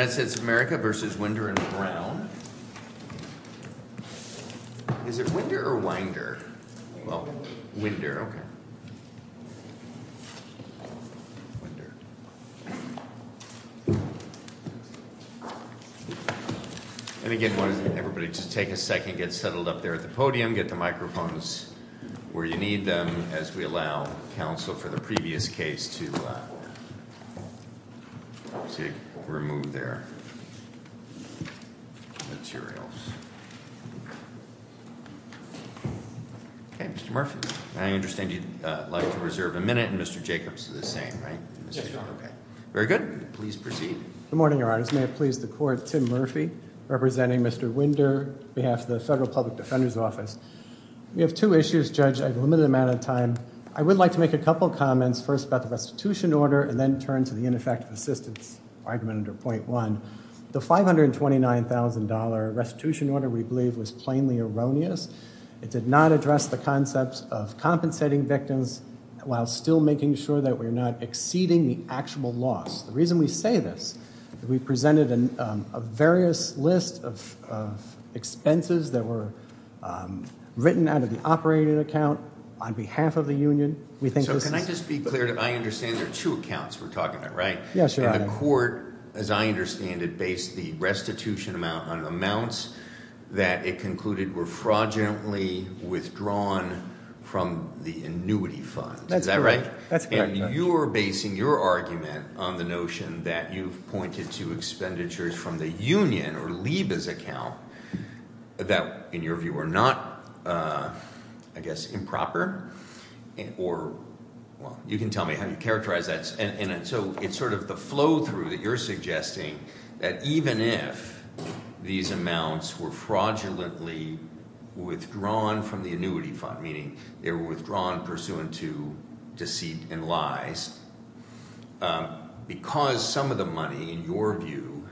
United States of America v. Wynder and Brown, is it Wynder or Winder, Wynder, okay, Wynder. And again, everybody just take a second, get settled up there at the podium, get the microphones where you need them, as we allow counsel for the previous case to remove their materials. Okay, Mr. Murphy, I understand you'd like to reserve a minute and Mr. Jacobs is the same, right? Very good. Please proceed. Good morning, Your Honors. May it please the Court, Tim Murphy, representing Mr. Wynder, behalf of the Federal Public Defender's Office. We have two issues, Judge, I've limited the amount of time. I would like to make a couple of comments, first about the restitution order and then turn to the ineffective assistance argument under point one. The $529,000 restitution order, we believe, was plainly erroneous. It did not address the concepts of compensating victims while still making sure that we're not exceeding the actual loss. The reason we say this, we've presented a various list of expenses that were written out of the operating account on behalf of the union. We think this is- So can I just be clear? I understand there are two accounts we're talking about, right? Yes, Your Honor. And the court, as I understand it, based the restitution amount on amounts that it concluded were fraudulently withdrawn from the annuity funds. Is that right? That's correct. You're basing your argument on the notion that you've pointed to expenditures from the union or LIBAs account that, in your view, are not, I guess, improper? Or, well, you can tell me how you characterize that. And so it's sort of the flow through that you're suggesting that even if these amounts were fraudulently withdrawn from the annuity fund, meaning they were withdrawn pursuant to deceit and lies, because some of the money, in your view,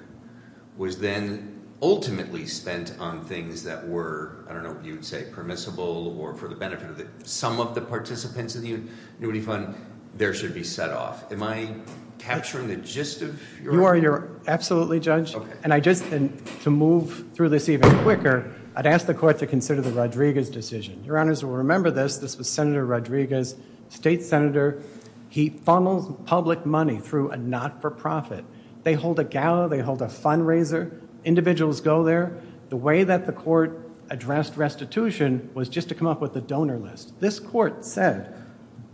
was then ultimately spent on things that were, I don't know if you'd say permissible or for the benefit of some of the participants of the annuity fund, there should be set off. Am I capturing the gist of your- You are. You're absolutely, Judge. Okay. And I just, to move through this even quicker, I'd ask the court to consider the Rodriguez decision. Your Honors will remember this. This was Senator Rodriguez, state senator. He funnels public money through a not-for-profit. They hold a gala. They hold a fundraiser. Individuals go there. The way that the court addressed restitution was just to come up with the donor list. This court said,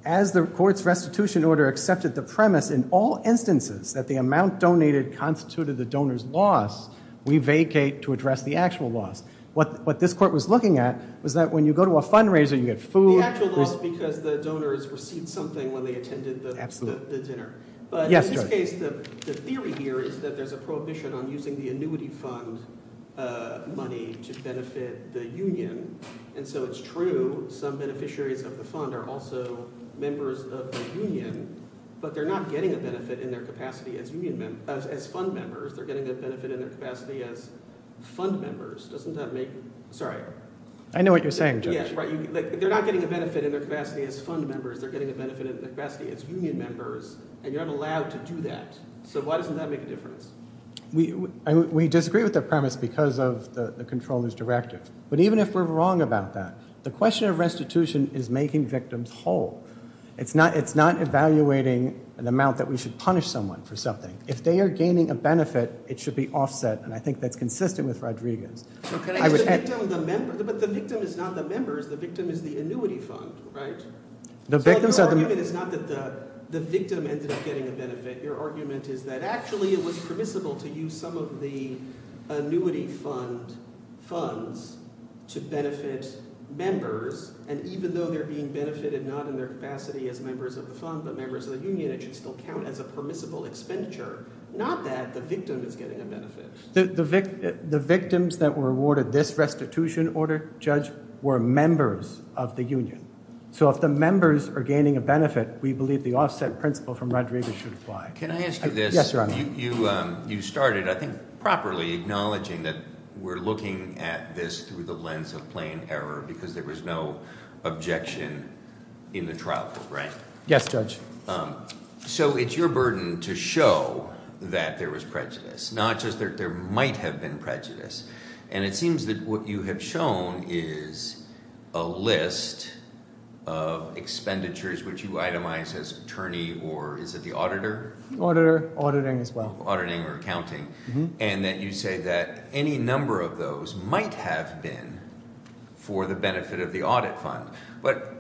as the court's restitution order accepted the premise in all instances that the amount donated constituted the donor's loss, we vacate to address the actual loss. What this court was looking at was that when you go to a fundraiser, you get food. The actual loss because the donors received something when they attended the dinner. But in this case, the theory here is that there's a prohibition on using the annuity fund money to benefit the union. And so it's true, some beneficiaries of the fund are also members of the union, but they're not getting a benefit in their capacity as fund members. They're getting a benefit in their capacity as fund members. Doesn't that make, sorry? I know what you're saying, Judge. Yes, right. They're not getting a benefit in their capacity as fund members. They're getting a benefit in their capacity as union members, and you're not allowed to do that. So why doesn't that make a difference? We disagree with the premise because of the comptroller's directive. But even if we're wrong about that, the question of restitution is making victims whole. It's not evaluating an amount that we should punish someone for something. If they are gaining a benefit, it should be offset. And I think that's consistent with Rodriguez. But the victim is not the members. The victim is the annuity fund, right? So your argument is not that the victim ended up getting a benefit. Your argument is that actually it was permissible to use some of the annuity funds to benefit members. And even though they're being benefited not in their capacity as members of the fund but members of the union, it should still count as a permissible expenditure. Not that the victim is getting a benefit. The victims that were awarded this restitution order, Judge, were members of the union. So if the members are gaining a benefit, we believe the offset principle from Rodriguez should apply. Can I ask you this? Yes, Your Honor. You started, I think, properly acknowledging that we're looking at this through the lens of plain error, because there was no objection in the trial program. Yes, Judge. So it's your burden to show that there was prejudice, not just that there might have been prejudice. And it seems that what you have shown is a list of expenditures which you itemize as attorney or is it the auditor? Auditor, auditing as well. Auditing or accounting. And that you say that any number of those might have been for the benefit of the audit fund. But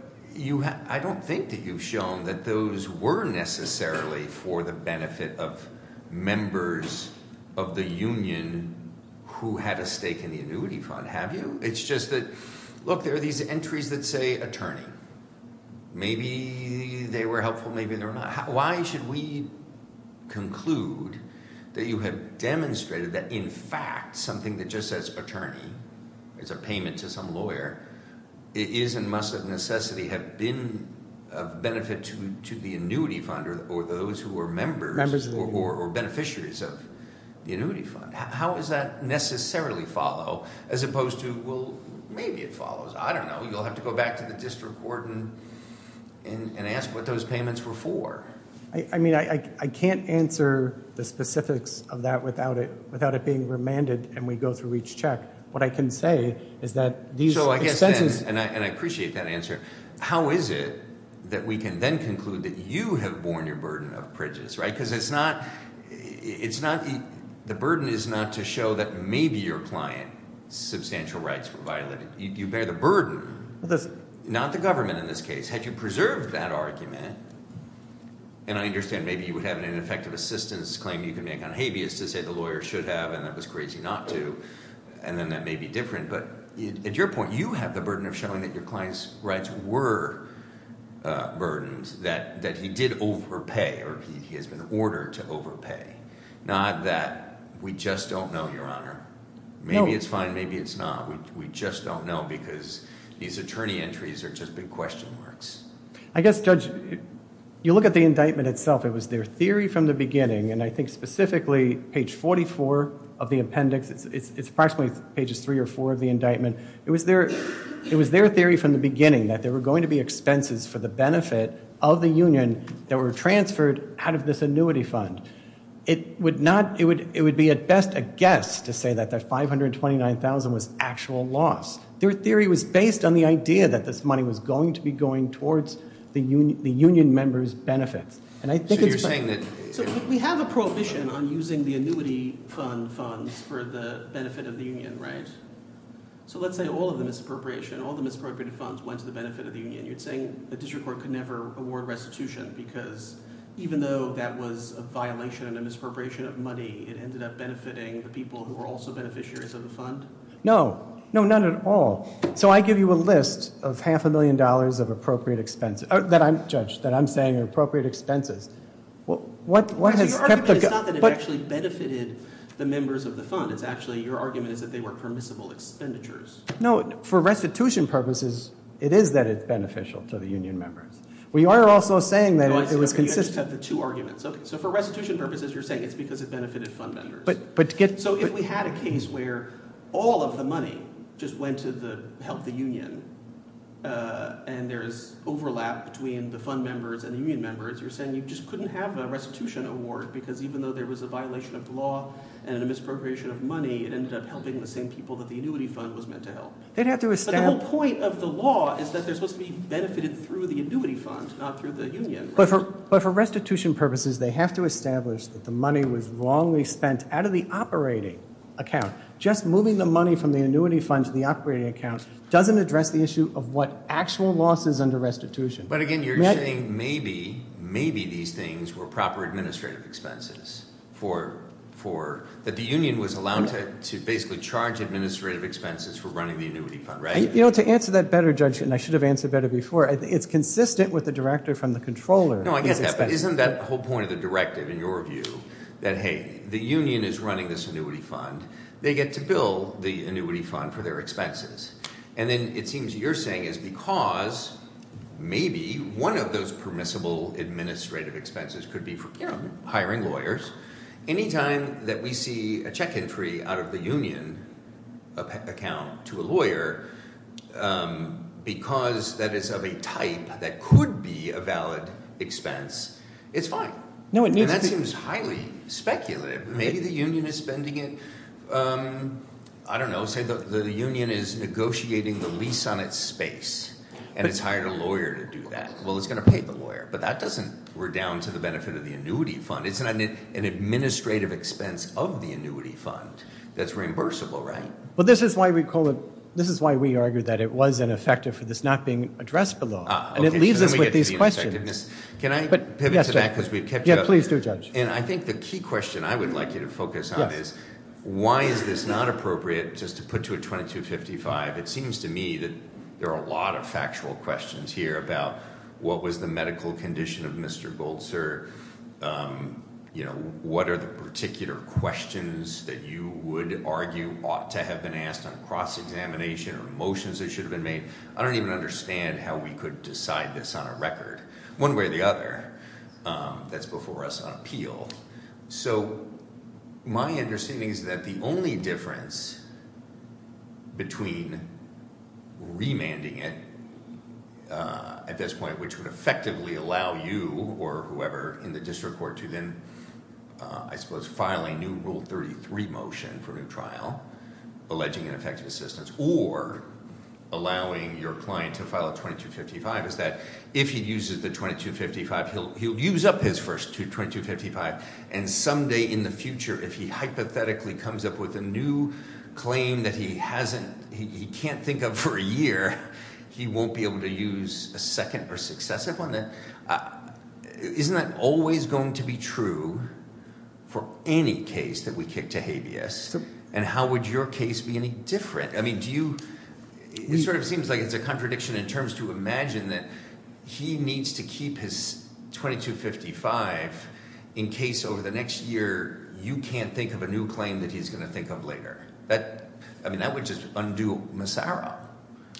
I don't think that you've shown that those were necessarily for the benefit of members of the union who had a stake in the annuity fund, have you? It's just that, look, there are these entries that say attorney. Maybe they were helpful, maybe they were not. Why should we conclude that you have demonstrated that in fact, something that just says attorney is a payment to some lawyer, it is and must of necessity have been of benefit to the annuity funder or those who are members- Or beneficiaries of the annuity fund. How does that necessarily follow, as opposed to, well, maybe it follows. I don't know, you'll have to go back to the district court and ask what those payments were for. I mean, I can't answer the specifics of that without it being remanded and we go through each check. What I can say is that these expenses- And I appreciate that answer. How is it that we can then conclude that you have borne your burden of prejudice, right? Because the burden is not to show that maybe your client's substantial rights were violated. You bear the burden, not the government in this case. Had you preserved that argument, and I understand maybe you would have an ineffective assistance claim you can make on habeas to say the lawyer should have and that was crazy not to, and then that may be different. But at your point, you have the burden of showing that your client's rights were burdened, that he did overpay, or he has been ordered to overpay. Not that we just don't know, Your Honor. Maybe it's fine, maybe it's not. We just don't know because these attorney entries are just big question marks. I guess, Judge, you look at the indictment itself. It was their theory from the beginning, and I think specifically page 44 of the appendix, it's approximately pages three or four of the indictment. It was their theory from the beginning that there were going to be expenses for the benefit of the union that were transferred out of this annuity fund. It would be at best a guess to say that the 529,000 was actual loss. Their theory was based on the idea that this money was going to be going towards the union member's benefits. And I think it's fine. So we have a prohibition on using the annuity fund funds for the benefit of the union, right? So let's say all of the misappropriation, all the misappropriated funds went to the benefit of the union. And you're saying the district court could never award restitution because even though that was a violation and a misappropriation of money, it ended up benefiting the people who were also beneficiaries of the fund? No, no, none at all. So I give you a list of half a million dollars of appropriate expenses, that I'm, Judge, that I'm saying are appropriate expenses. What has kept the- Actually, your argument is not that it actually benefited the members of the fund. It's actually, your argument is that they were permissible expenditures. No, for restitution purposes, it is that it's beneficial to the union members. We are also saying that it was consistent. You just have the two arguments. Okay, so for restitution purposes, you're saying it's because it benefited fund members. But get- So if we had a case where all of the money just went to help the union and there's overlap between the fund members and the union members, you're saying you just couldn't have a restitution award. Because even though there was a violation of the law and a misappropriation of money, it ended up helping the same people that the annuity fund was meant to help. They'd have to establish- But the whole point of the law is that they're supposed to be benefited through the annuity fund, not through the union. But for restitution purposes, they have to establish that the money was wrongly spent out of the operating account. Just moving the money from the annuity fund to the operating account doesn't address the issue of what actual losses under restitution. But again, you're saying maybe, maybe these things were proper administrative expenses. That the union was allowed to basically charge administrative expenses for running the annuity fund, right? To answer that better, Judge, and I should have answered better before, it's consistent with the director from the controller. No, I get that, but isn't that the whole point of the directive in your view? That hey, the union is running this annuity fund. They get to bill the annuity fund for their expenses. And then it seems you're saying is because maybe one of those permissible administrative expenses could be for hiring lawyers. Anytime that we see a check entry out of the union account to a lawyer, because that is of a type that could be a valid expense, it's fine. And that seems highly speculative. Maybe the union is spending it, I don't know, say the union is negotiating the lease on its space. And it's hired a lawyer to do that. Well, it's going to pay the lawyer. But that doesn't, we're down to the benefit of the annuity fund. It's not an administrative expense of the annuity fund that's reimbursable, right? But this is why we call it, this is why we argue that it was ineffective for this not being addressed below. And it leaves us with these questions. Can I pivot to that because we've kept you up? Yeah, please do, Judge. And I think the key question I would like you to focus on is, why is this not appropriate just to put to a 2255? It seems to me that there are a lot of factual questions here about what was the medical condition of Mr. Goldster? What are the particular questions that you would argue ought to have been asked on cross-examination or motions that should have been made? I don't even understand how we could decide this on a record. One way or the other, that's before us on appeal. So my understanding is that the only difference between remanding it at this point, which would effectively allow you or whoever in the district court to then, I suppose, file a new Rule 33 motion for a new trial, alleging ineffective assistance, or allowing your client to file a 2255, is that if he uses the 2255, he'll use up his first 2255, and someday in the future, if he hypothetically comes up with a new claim that he can't think of for a year, he won't be able to use a second or successive one, then isn't that always going to be true for any case that we kick to habeas? And how would your case be any different? It sort of seems like it's a contradiction in terms to imagine that he needs to keep his 2255 in case over the next year you can't think of a new claim that he's going to think of later. That would just undo Massaro.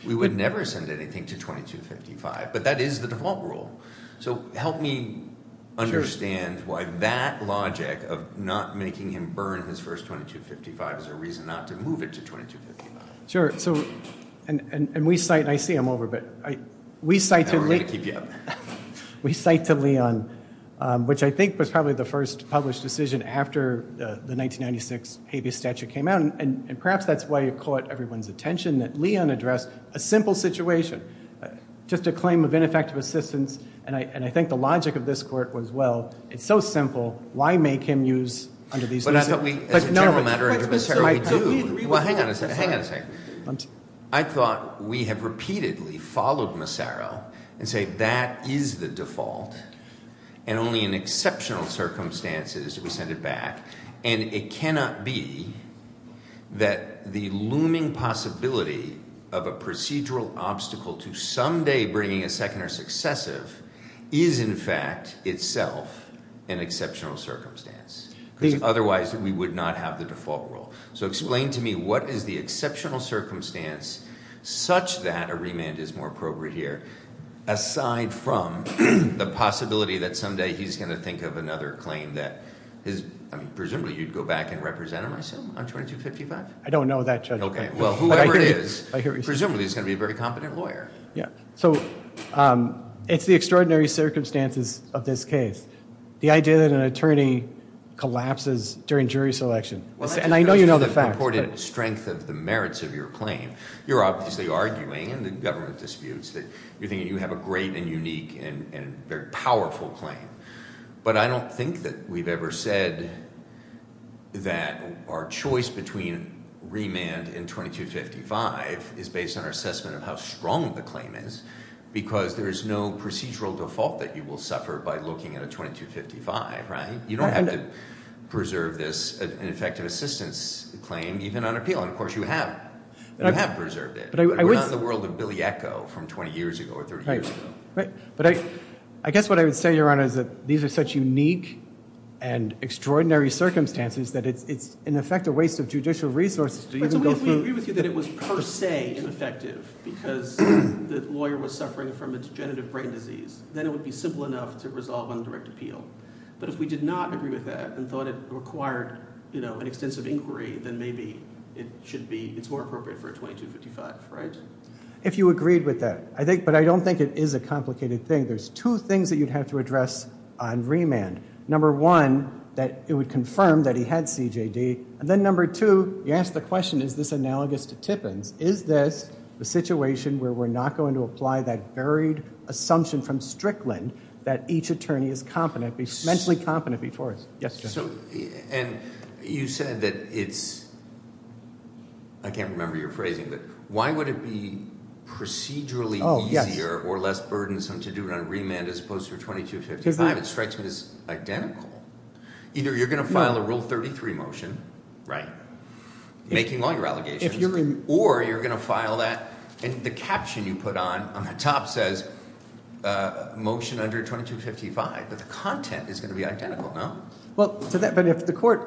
We would never send anything to 2255, but that is the default rule. So help me understand why that logic of not making him burn his first 2255 is a reason not to move it to 2255. Sure. So, and we cite, and I see I'm over, but we cite to Leon, which I think was probably the first published decision after the 1996 habeas statute came out, and perhaps that's why it caught everyone's attention that Leon addressed a simple situation, just a claim of ineffective assistance, and I think the logic of this court was, well, it's so simple, why make him use under these conditions? But as a general matter, under Massaro, we do. Well, hang on a second. I thought we have repeatedly followed Massaro and say that is the default, and only in exceptional circumstances do we send it back, and it cannot be that the looming possibility of a procedural obstacle to someday bringing a second or successive is in fact itself an exceptional circumstance, because otherwise we would not have the default rule. So explain to me what is the exceptional circumstance such that a remand is more appropriate here, aside from the possibility that someday he's going to think of another claim that is, I mean, presumably you'd go back and represent him, I assume, on 2255? I don't know that, Judge. Okay, well, whoever it is, presumably he's going to be a very competent lawyer. Yeah, so it's the extraordinary circumstances of this case. The idea that an attorney collapses during jury selection, and I know you know the facts, but- Well, I think that's the reported strength of the merits of your claim. You're obviously arguing in the government disputes that you think you have a great and unique and very powerful claim, but I don't think that we've ever said that our choice between remand and 2255 is based on our assessment of how strong the claim is, because there is no procedural default that you will suffer by looking at a 2255, right? You don't have to preserve this, an effective assistance claim, even on appeal, and of course you have. You have preserved it. But I would- We're not in the world of Billy Echo from 20 years ago or 30 years ago. But I guess what I would say, Your Honor, is that these are such unique and extraordinary circumstances that it's, in effect, a waste of judicial resources to even go through- But so if we agree with you that it was per se ineffective because the lawyer was suffering from a degenerative brain disease, then it would be simple enough to resolve on direct appeal. But if we did not agree with that and thought it required an extensive inquiry, then maybe it should be, it's more appropriate for a 2255, right? If you agreed with that, I think, but I don't think it is a complicated thing. There's two things that you'd have to address on remand. Number one, that it would confirm that he had CJD, and then number two, you asked the question, is this analogous to Tippins? Is this the situation where we're not going to apply that varied assumption from Strickland that each attorney is mentally competent before us? Yes, Judge. And you said that it's, I can't remember your phrasing, but why would it be procedurally easier- Or less burdensome to do it on remand as opposed to a 2255? It strikes me as identical. Either you're going to file a Rule 33 motion, right, making all your allegations, or you're going to file that, and the caption you put on on the top says, motion under 2255, but the content is going to be identical, no? Well, to that, but if the court-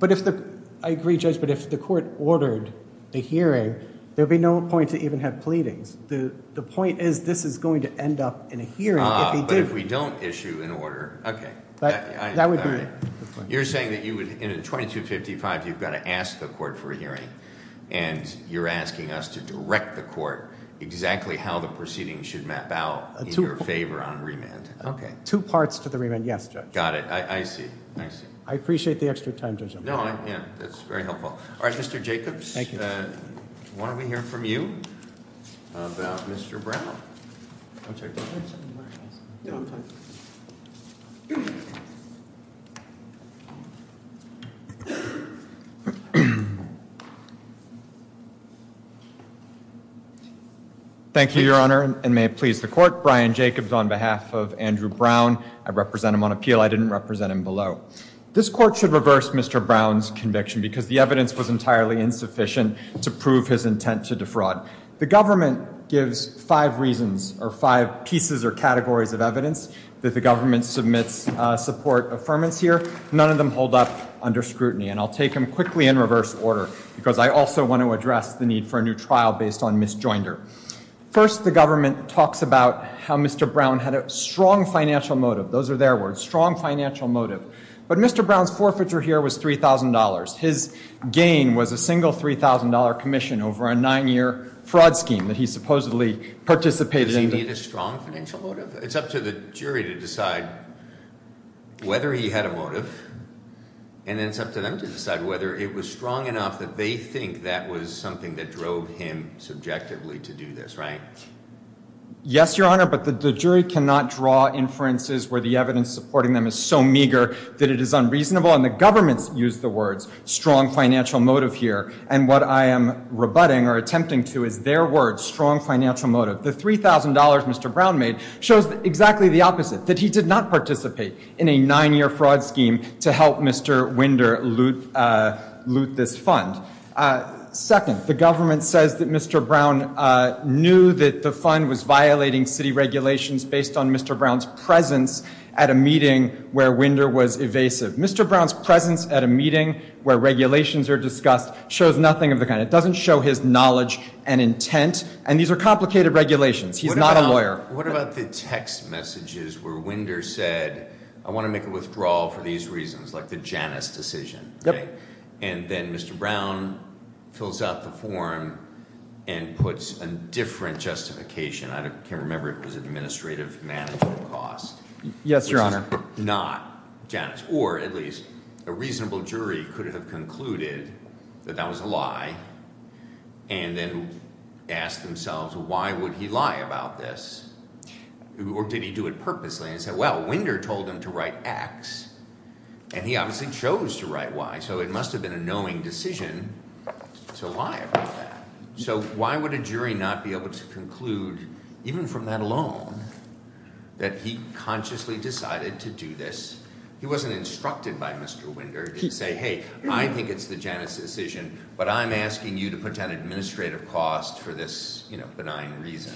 But if the, I agree, Judge, but if the court ordered a hearing, there'd be no point to even have pleadings. The point is, this is going to end up in a hearing if he did- But if we don't issue an order, okay. That would be- You're saying that you would, in a 2255, you've got to ask the court for a hearing, and you're asking us to direct the court exactly how the proceedings should map out in your favor on remand. Okay. Two parts to the remand, yes, Judge. Got it, I see, I see. I appreciate the extra time, Judge. No, I, yeah, that's very helpful. All right, Mr. Jacobs, why don't we hear from you about Mr. Brown? I'm sorry, do you want me to sit in the back, or should I sit in the front? No, I'm fine. Thank you, Your Honor, and may it please the court, Brian Jacobs on behalf of Andrew Brown. I represent him on appeal. I didn't represent him below. This court should reverse Mr. Brown's conviction, because the evidence was entirely insufficient to prove his intent to defraud. The government gives five reasons, or five pieces or categories of evidence, that the government submits support affirmance here. None of them hold up under scrutiny, and I'll take them quickly in reverse order, because I also want to address the need for a new trial based on misjoinder. First, the government talks about how Mr. Brown had a strong financial motive. Those are their words, strong financial motive. But Mr. Brown's forfeiture here was $3,000. His gain was a single $3,000 commission over a nine year fraud scheme that he supposedly participated in. Does he need a strong financial motive? It's up to the jury to decide whether he had a motive, and then it's up to them to decide whether it was strong enough that they think that was something that drove him subjectively to do this, right? Yes, your honor, but the jury cannot draw inferences where the evidence supporting them is so meager that it is unreasonable, and the governments use the words strong financial motive here. And what I am rebutting or attempting to is their words, strong financial motive. The $3,000 Mr. Brown made shows exactly the opposite, that he did not participate in a nine year fraud scheme to help Mr. Winder loot this fund. Second, the government says that Mr. Brown knew that the fund was violating city regulations based on Mr. Brown's presence at a meeting where Winder was evasive. Mr. Brown's presence at a meeting where regulations are discussed shows nothing of the kind. It doesn't show his knowledge and intent, and these are complicated regulations. He's not a lawyer. What about the text messages where Winder said, I want to make a withdrawal for these reasons, like the Janus decision, right? And then Mr. Brown fills out the form and puts a different justification. I can't remember if it was administrative management cost. Yes, your honor. Not Janus, or at least a reasonable jury could have concluded that that was a lie. And then asked themselves, why would he lie about this, or did he do it purposely? And said, well, Winder told him to write X, and he obviously chose to write Y. So it must have been a knowing decision to lie about that. So why would a jury not be able to conclude, even from that alone, that he consciously decided to do this? He wasn't instructed by Mr. Winder to say, hey, I think it's the Janus decision, but I'm asking you to put down administrative cost for this benign reason.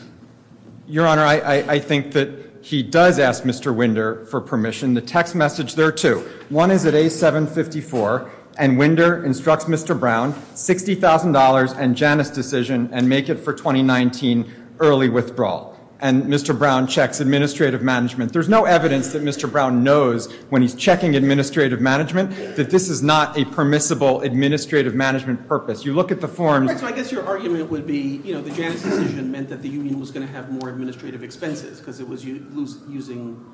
Your honor, I think that he does ask Mr. Winder for permission. The text message, there are two. One is at A754, and Winder instructs Mr. Brown, $60,000 and Janus decision, and make it for 2019 early withdrawal. And Mr. Brown checks administrative management. There's no evidence that Mr. Brown knows when he's checking administrative management, that this is not a permissible administrative management purpose. You look at the form- So I guess your argument would be, the Janus decision meant that the union was going to have more administrative expenses, because it was losing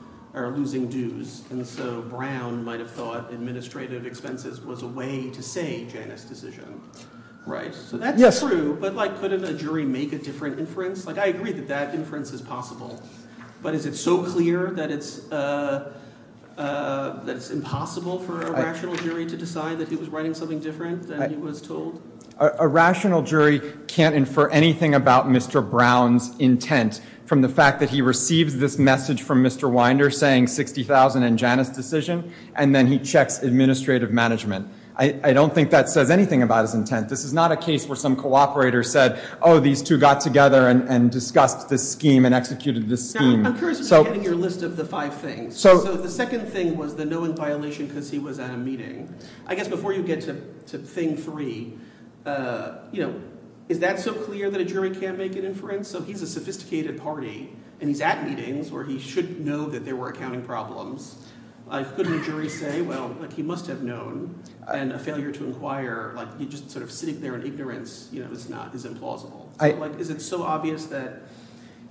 dues. And so Brown might have thought administrative expenses was a way to say Janus decision. Right, so that's true, but couldn't a jury make a different inference? I agree that that inference is possible. But is it so clear that it's impossible for a rational jury to decide that he was writing something different than he was told? A rational jury can't infer anything about Mr. Brown's intent from the fact that he receives this message from Mr. Winder saying $60,000 and Janus decision. And then he checks administrative management. I don't think that says anything about his intent. This is not a case where some cooperator said, these two got together and discussed this scheme and executed this scheme. I'm curious about getting your list of the five things. So the second thing was the known violation because he was at a meeting. I guess before you get to thing three, is that so clear that a jury can't make an inference? So he's a sophisticated party and he's at meetings where he should know that there were accounting problems. Couldn't a jury say, well, he must have known, and a failure to inquire, like he just sort of sitting there in ignorance is implausible. Is it so obvious that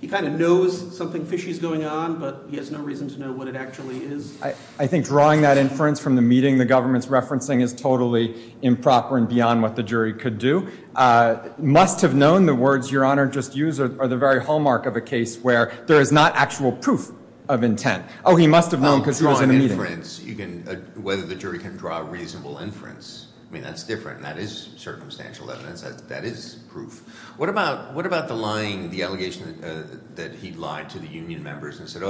he kind of knows something fishy is going on, but he has no reason to know what it actually is? I think drawing that inference from the meeting the government's referencing is totally improper and beyond what the jury could do. Must have known, the words your honor just used are the very hallmark of a case where there is not actual proof of intent. He must have known because he was in a meeting. Whether the jury can draw a reasonable inference, I mean, that's different. That is circumstantial evidence. That is proof. What about the lying, the allegation that he lied to the union members and said,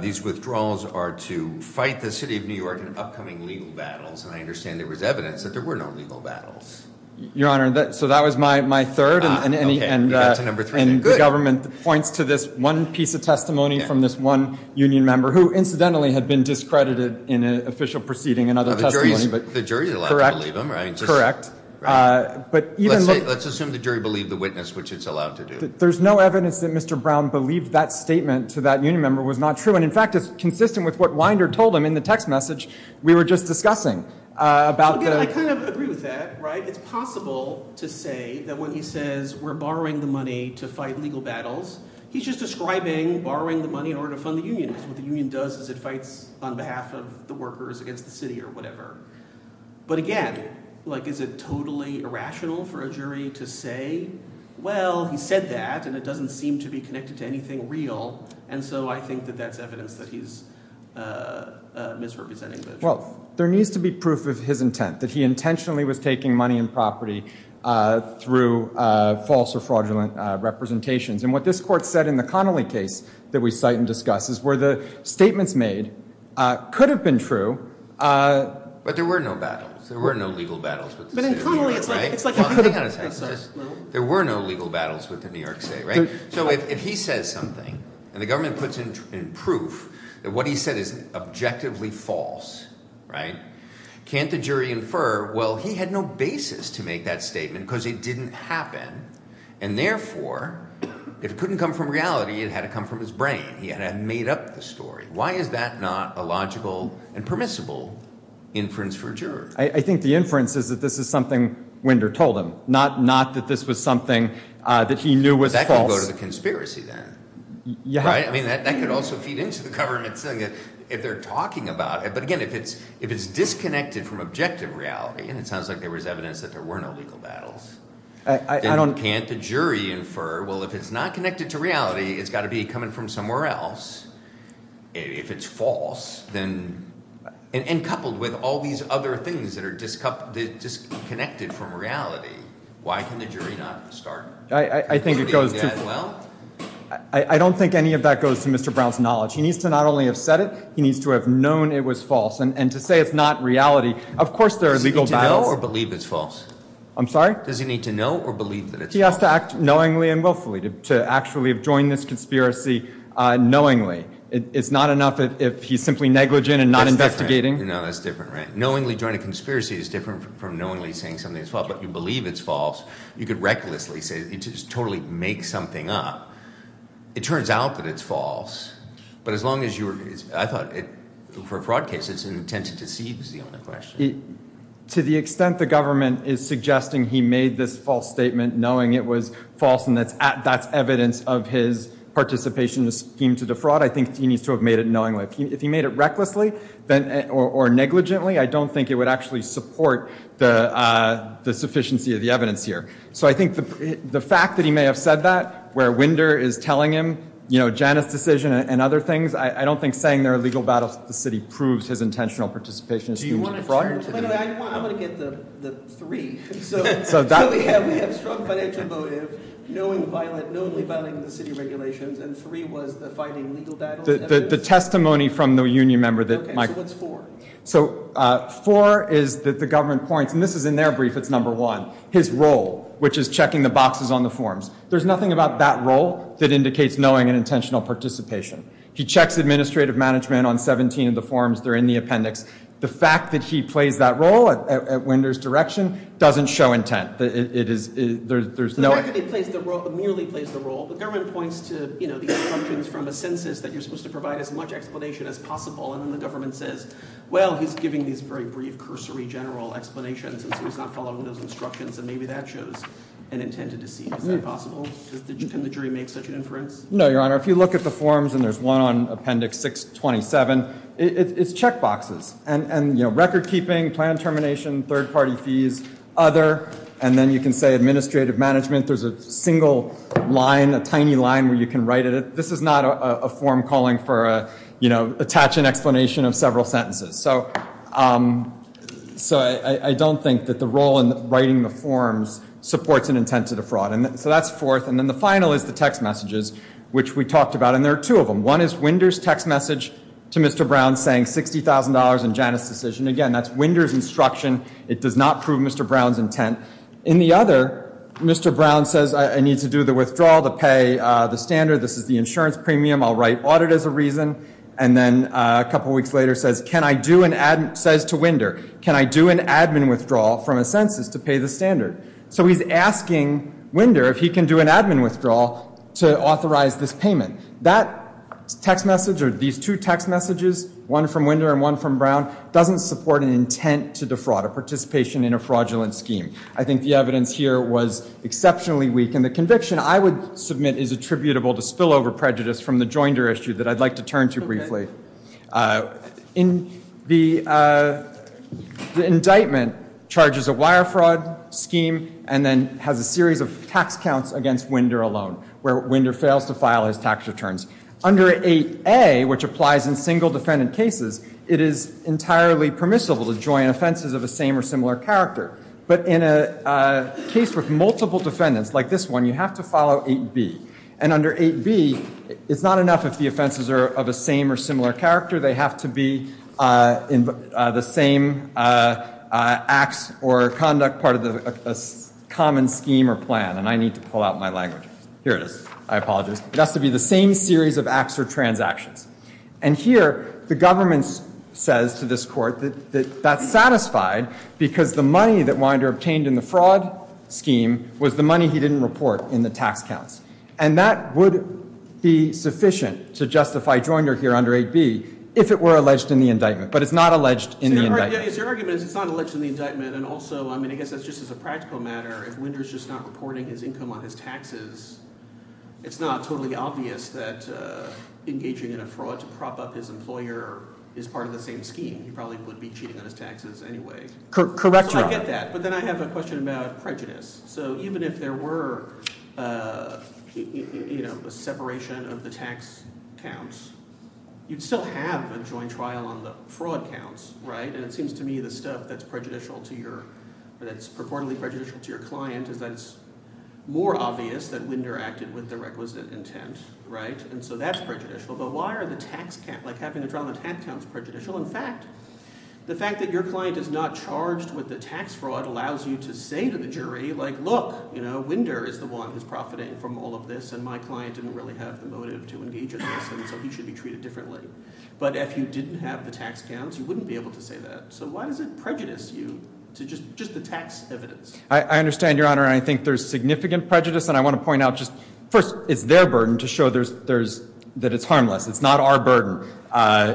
these withdrawals are to fight the city of New York in upcoming legal battles. And I understand there was evidence that there were no legal battles. Your honor, so that was my third and the government points to this one piece of testimony from this one union member, who incidentally had been discredited in an official proceeding and other testimony. The jury's allowed to believe him, right? Correct. Let's assume the jury believed the witness, which it's allowed to do. There's no evidence that Mr. Brown believed that statement to that union member was not true. And in fact, it's consistent with what Winder told him in the text message we were just discussing. About the- Again, I kind of agree with that, right? It's possible to say that when he says we're borrowing the money to fight legal battles, he's just describing borrowing the money in order to fund the union, because what the union does is it fights on behalf of the workers against the city or whatever. But again, is it totally irrational for a jury to say, well, he said that, and it doesn't seem to be connected to anything real. And so I think that that's evidence that he's misrepresenting the jury. Well, there needs to be proof of his intent, that he intentionally was taking money and property through false or fraudulent representations. And what this court said in the Connolly case that we cite and discuss is where the statements made could have been true. But there were no battles. There were no legal battles with the city, right? But in Connolly, it's like- Hang on a second. There were no legal battles with the New York State, right? So if he says something, and the government puts in proof that what he said is objectively false, right? Can't the jury infer, well, he had no basis to make that statement because it didn't happen. And therefore, if it couldn't come from reality, it had to come from his brain. He had to have made up the story. Why is that not a logical and permissible inference for a juror? I think the inference is that this is something Winder told him, not that this was something that he knew was false. So that could go to the conspiracy then, right? I mean, that could also feed into the government saying that if they're talking about it. But again, if it's disconnected from objective reality, and it sounds like there was evidence that there were no legal battles, then can't the jury infer, well, if it's not connected to reality, it's got to be coming from somewhere else, if it's false. Then, and coupled with all these other things that are disconnected from reality, why can the jury not start? I think it goes to- I don't think any of that goes to Mr. Brown's knowledge. He needs to not only have said it, he needs to have known it was false. And to say it's not reality, of course there are legal battles. Does he need to know or believe it's false? I'm sorry? Does he need to know or believe that it's false? He has to act knowingly and willfully, to actually have joined this conspiracy knowingly. It's not enough if he's simply negligent and not investigating. No, that's different, right? Knowingly joining a conspiracy is different from knowingly saying something is false, but you believe it's false. You could recklessly say, just totally make something up. It turns out that it's false. But as long as you're, I thought, for a fraud case, it's an intent to deceive is the only question. To the extent the government is suggesting he made this false statement knowing it was false, and that's evidence of his participation in the scheme to defraud, I think he needs to have made it knowingly. If he made it recklessly or negligently, I don't think it would actually support the sufficiency of the evidence here. So I think the fact that he may have said that, where Winder is telling him, Janice's decision and other things, I don't think saying there are legal battles that the city proves his intentional participation in the fraud. I'm going to get the three. So we have strong financial motive, knowingly violating the city regulations, and three was the fighting legal battles. The testimony from the union member that- Okay, so what's four? So four is that the government points, and this is in their brief, it's number one, his role, which is checking the boxes on the forms. There's nothing about that role that indicates knowing and intentional participation. He checks administrative management on 17 of the forms. They're in the appendix. The fact that he plays that role at Winder's direction doesn't show intent. It is, there's no- The fact that he merely plays the role, the government points to, you know, the assumptions from a census that you're supposed to provide as much explanation as possible. And then the government says, well, he's giving these very brief cursory general explanations, and so he's not following those instructions, and maybe that shows an intent to deceive. Is that possible? Can the jury make such an inference? No, your honor. If you look at the forms, and there's one on appendix 627, it's check boxes. And, you know, record keeping, plan termination, third-party fees, other, and then you can say administrative management. There's a single line, a tiny line where you can write it. This is not a form calling for, you know, attach an explanation of several sentences. So I don't think that the role in writing the forms supports an intent to defraud. So that's fourth. And then the final is the text messages, which we talked about. And there are two of them. One is Winder's text message to Mr. Brown saying $60,000 in Janus' decision. Again, that's Winder's instruction. It does not prove Mr. Brown's intent. In the other, Mr. Brown says, I need to do the withdrawal to pay the standard. This is the insurance premium. I'll write audit as a reason. And then a couple weeks later says to Winder, can I do an admin withdrawal from a census to pay the standard? So he's asking Winder if he can do an admin withdrawal to authorize this payment. That text message, or these two text messages, one from Winder and one from Brown, doesn't support an intent to defraud, a participation in a fraudulent scheme. I think the evidence here was exceptionally weak. And the conviction, I would submit, is attributable to spillover prejudice from the Joinder issue that I'd like to turn to briefly. The indictment charges a wire fraud scheme and then has a series of tax counts against Winder alone, where Winder fails to file his tax returns. Under 8A, which applies in single defendant cases, it is entirely permissible to join offenses of the same or similar character. But in a case with multiple defendants, like this one, you have to follow 8B. And under 8B, it's not enough if the offenses are of a same or similar character. They have to be the same acts or conduct part of a common scheme or plan. And I need to pull out my language. Here it is. I apologize. It has to be the same series of acts or transactions. And here, the government says to this court that that's satisfied because the money that Winder obtained in the fraud scheme was the money he didn't report in the tax counts. And that would be sufficient to justify Joinder here under 8B if it were alleged in the indictment. But it's not alleged in the indictment. Yeah, his argument is it's not alleged in the indictment. And also, I mean, I guess that's just as a practical matter, if Winder's just not reporting his income on his taxes, it's not totally obvious that engaging in a fraud to prop up his employer is part of the same scheme. He probably would be cheating on his taxes anyway. Correct your- So I get that. But then I have a question about prejudice. So even if there were a separation of the tax counts, you'd still have a joint trial on the fraud counts, right? And it seems to me the stuff that's prejudicial to your- that's purportedly prejudicial to your client is that it's more obvious that Winder acted with the requisite intent, right? And so that's prejudicial. But why are the tax counts- like having a trial on the tax counts prejudicial? In fact, the fact that your client is not charged with the tax fraud allows you to say to the jury, like, look, you know, Winder is the one who's profiting from all of this, and my client didn't really have the motive to engage in this, and so he should be treated differently. But if you didn't have the tax counts, you wouldn't be able to say that. So why does it prejudice you to just the tax evidence? I understand, Your Honor, and I think there's significant prejudice. And I want to point out just- first, it's their burden to show that it's harmless. It's not our burden.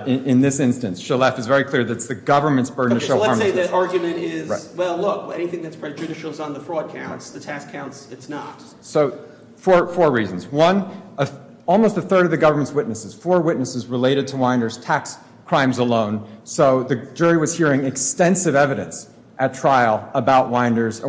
In this instance, Shalef is very clear that it's the government's burden to show harmlessness. So let's say that argument is, well, look, anything that's prejudicial is on the fraud counts. The tax counts, it's not. So four reasons. One, almost a third of the government's witnesses, four witnesses related to Winder's tax crimes alone. So the jury was hearing extensive evidence at trial about Winder's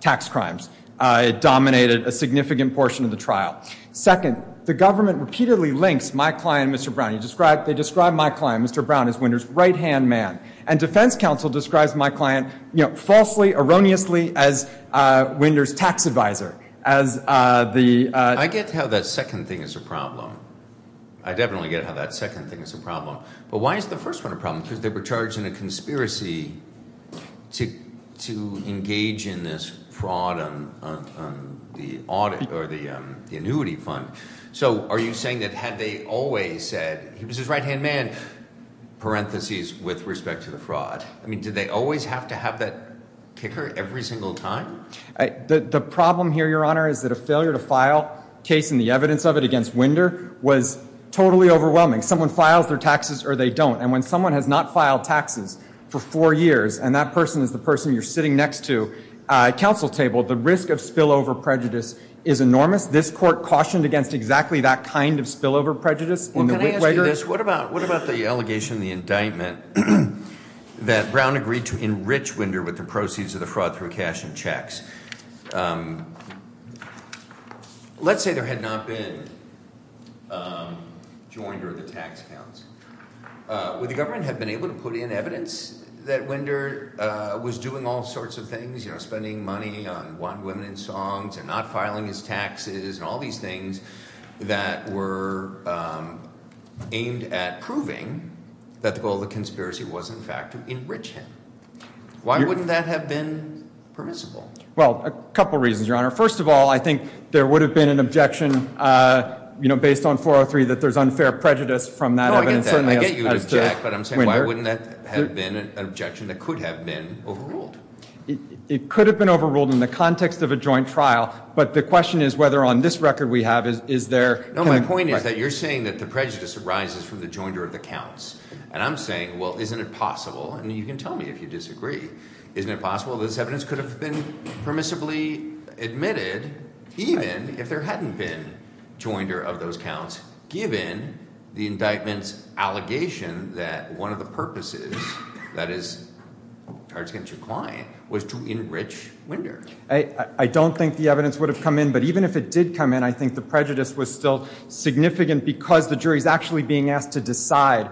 tax crimes. It dominated a significant portion of the trial. Second, the government repeatedly links my client, Mr. Brown. You describe- they describe my client, Mr. Brown, as Winder's right-hand man. And defense counsel describes my client, you know, falsely, erroneously as Winder's tax advisor. As the- I get how that second thing is a problem. I definitely get how that second thing is a problem. But why is the first one a problem? Because they were charged in a conspiracy to engage in this fraud on the audit or the annuity fund. So are you saying that had they always said, he was his right-hand man, parentheses, with respect to the fraud. I mean, did they always have to have that kicker every single time? The problem here, Your Honor, is that a failure to file a case and the evidence of it against Winder was totally overwhelming. Someone files their taxes or they don't. And when someone has not filed taxes for four years and that person is the person you're sitting next to at counsel table, the risk of spillover prejudice is enormous. This court cautioned against exactly that kind of spillover prejudice. Well, can I ask you this? What about the allegation, the indictment, that Brown agreed to enrich Winder with the proceeds of the fraud through cash and checks? Let's say there had not been joinder of the tax accounts. Would the government have been able to put in evidence that Winder was doing all sorts of things? Spending money on one woman in songs and not filing his taxes and all these things that were aimed at proving that the goal of the conspiracy was, in fact, to enrich him? Why wouldn't that have been permissible? Well, a couple reasons, Your Honor. First of all, I think there would have been an objection based on 403 that there's unfair prejudice from that evidence. No, I get that. I get you would object, but I'm saying why wouldn't that have been an objection that could have been overruled? It could have been overruled in the context of a joint trial, but the question is whether on this record we have, is there- No, my point is that you're saying that the prejudice arises from the joinder of the counts. And I'm saying, well, isn't it possible, and you can tell me if you disagree, isn't it possible that this evidence could have been permissibly admitted even if there hadn't been joinder of those counts, given the indictment's allegation that one of the purposes, that is, charge against your client, was to enrich winder? I don't think the evidence would have come in, but even if it did come in, I think the prejudice was still significant because the jury's actually being asked to decide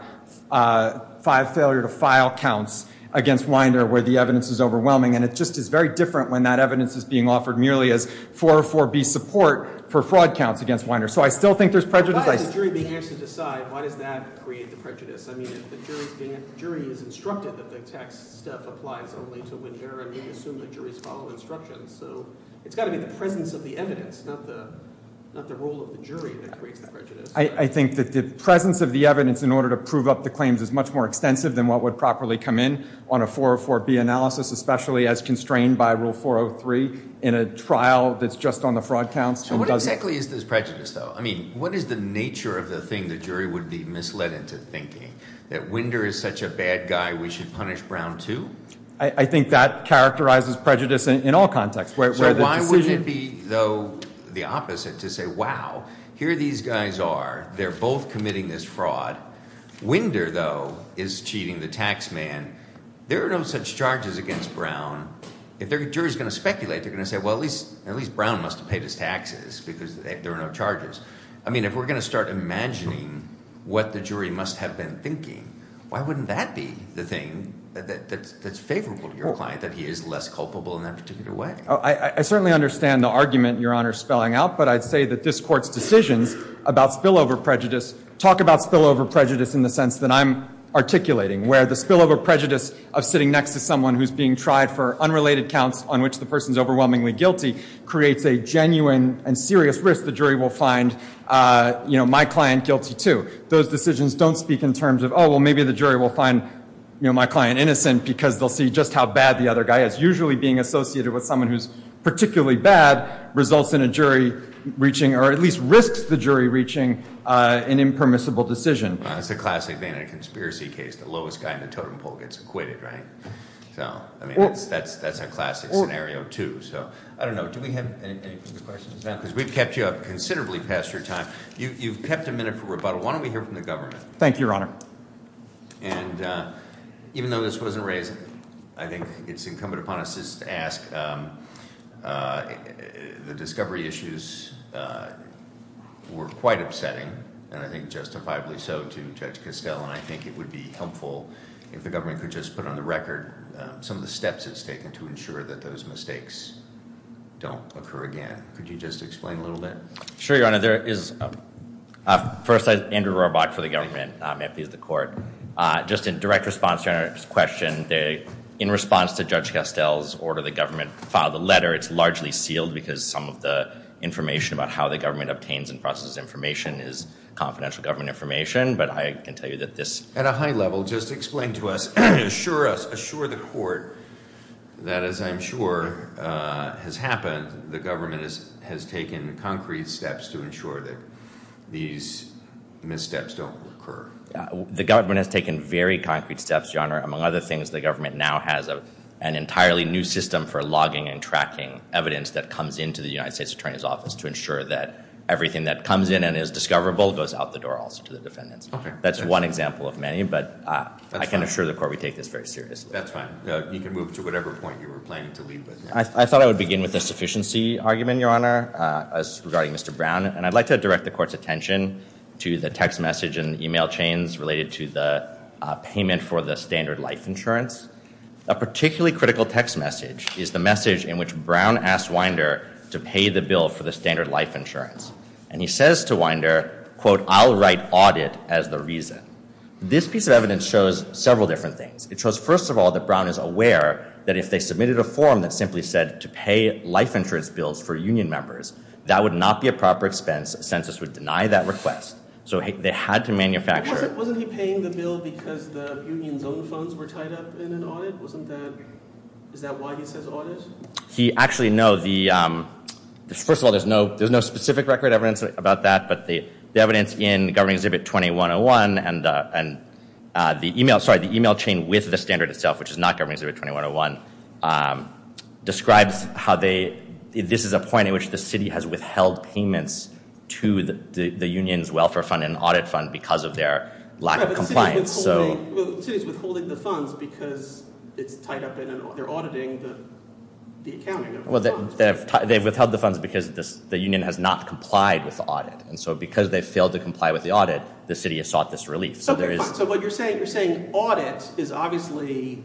five failure to file counts against winder where the evidence is overwhelming. And it just is very different when that evidence is being offered merely as 404B support for fraud counts against winder. So I still think there's prejudice. Why is the jury being asked to decide? Why does that create the prejudice? I mean, if the jury is instructed that the tax step applies only to winder, and we assume the jury's following instructions. So it's gotta be the presence of the evidence, not the role of the jury that creates the prejudice. I think that the presence of the evidence in order to prove up the claims is much more extensive than what would properly come in on a 404B analysis, especially as constrained by rule 403 in a trial that's just on the fraud counts. So what exactly is this prejudice though? I mean, what is the nature of the thing the jury would be misled into thinking? That winder is such a bad guy, we should punish Brown too? I think that characterizes prejudice in all contexts. Where the decision- So why would it be, though, the opposite to say, wow, here these guys are. They're both committing this fraud. Winder, though, is cheating the tax man. There are no such charges against Brown. If the jury's going to speculate, they're going to say, well, at least Brown must have paid his taxes, because there are no charges. I mean, if we're going to start imagining what the jury must have been thinking, why wouldn't that be the thing that's favorable to your client, that he is less culpable in that particular way? I certainly understand the argument your honor's spelling out, but I'd say that this court's decisions about spillover prejudice, talk about spillover prejudice in the sense that I'm articulating, where the spillover prejudice of sitting next to someone who's being tried for unrelated counts on which the person's overwhelmingly guilty creates a genuine and serious risk the jury will find my client guilty too. Those decisions don't speak in terms of, well, maybe the jury will find my client innocent because they'll see just how bad the other guy is. Usually being associated with someone who's particularly bad results in a jury reaching, or at least risks the jury reaching an impermissible decision. It's a classic Vanity Conspiracy case, the lowest guy in the totem pole gets acquitted, right? So, I mean, that's a classic scenario too. So, I don't know, do we have any further questions now? because we've kept you up considerably past your time. You've kept a minute for rebuttal, why don't we hear from the government? Thank you, your honor. And even though this wasn't raised, I think it's incumbent upon us just to ask, the discovery issues were quite upsetting. And I think justifiably so to Judge Castell, and I think it would be helpful if the government could just put on the record some of the steps it's taken to ensure that those mistakes don't occur again. Could you just explain a little bit? Sure, your honor. First, I'm Andrew Robach for the government, I'm empty of the court. Just in direct response to your honor's question, in response to Judge Castell's order, the government filed a letter. It's largely sealed because some of the information about how the government obtains and processes information is confidential government information, but I can tell you that this- At a high level, just explain to us, assure us, assure the court that as I'm sure has happened, the government has taken concrete steps to ensure that these missteps don't occur. The government has taken very concrete steps, your honor. Among other things, the government now has an entirely new system for logging and tracking evidence that comes into the United States Attorney's Office to ensure that everything that comes in and is discoverable goes out the door also to the defendants. That's one example of many, but I can assure the court we take this very seriously. That's fine. You can move to whatever point you were planning to leave with. I thought I would begin with the sufficiency argument, your honor, regarding Mr. Brown. And I'd like to direct the court's attention to the text message and email chains related to the payment for the standard life insurance. A particularly critical text message is the message in which Brown asked Winder to pay the bill for the standard life insurance. And he says to Winder, quote, I'll write audit as the reason. This piece of evidence shows several different things. It shows, first of all, that Brown is aware that if they submitted a form that simply said to pay life insurance bills for union members, that would not be a proper expense, census would deny that request. So they had to manufacture- Wasn't he paying the bill because the union's own funds were tied up in an audit? Isn't that, is that why he says audit? He actually, no, first of all, there's no specific record evidence about that. But the evidence in Governing Exhibit 2101, and the email, sorry, the email chain with the standard itself, which is not Governing Exhibit 2101, describes how they, this is a point in which the city has withheld payments to the union's welfare fund and audit fund because of their lack of compliance, so- Yeah, but the city's withholding the funds because it's tied up in an, they're auditing the accounting of the funds. Well, they've withheld the funds because the union has not complied with the audit. And so because they failed to comply with the audit, the city has sought this relief. So there is- I think you're saying audit is obviously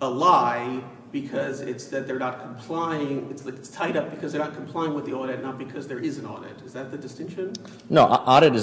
a lie because it's that they're not complying, it's tied up because they're not complying with the audit, not because there is an audit. Is that the distinction? No, audit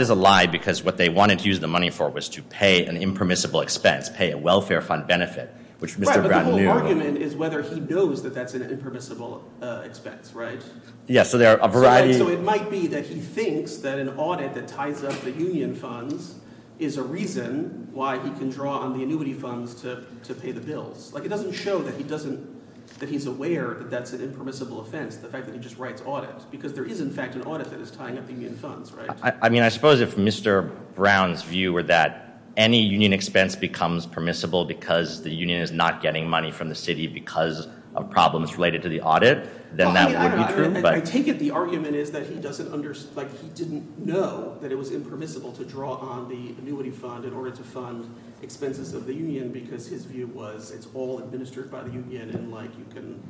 is a lie because what they wanted to use the money for was to pay an impermissible expense, pay a welfare fund benefit. Which Mr. Brown knew- Right, but the whole argument is whether he knows that that's an impermissible expense, right? Yeah, so there are a variety- So it might be that he thinks that an audit that ties up the union funds is a reason why he can draw on the annuity funds to pay the bills. It doesn't show that he's aware that that's an impermissible offense, the fact that he just writes audit. Because there is, in fact, an audit that is tying up the union funds, right? I mean, I suppose if Mr. Brown's view were that any union expense becomes permissible because the union is not getting money from the city because of problems related to the audit, then that would be true, but- I think that the argument is that he doesn't understand, like, he didn't know that it was impermissible to draw on the annuity fund in order to fund expenses of the union because his view was it's all administered by the union and, like, you can,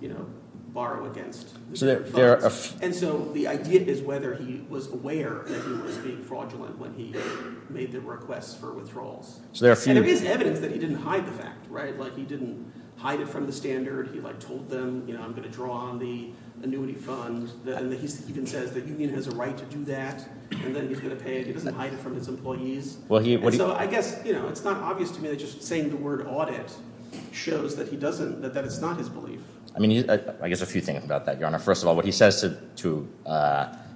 you know, borrow against the union funds. And so the idea is whether he was aware that he was being fraudulent when he made the requests for withdrawals. So there are a few- And there is evidence that he didn't hide the fact, right? Like, he didn't hide it from the standard. He, like, told them, you know, I'm going to draw on the annuity fund. And he even says the union has a right to do that, and then he's going to pay it. He doesn't hide it from his employees. Well, he- And so I guess, you know, it's not obvious to me that just saying the word audit shows that he doesn't- that it's not his belief. I mean, I guess a few things about that, Your Honor. First of all, what he says to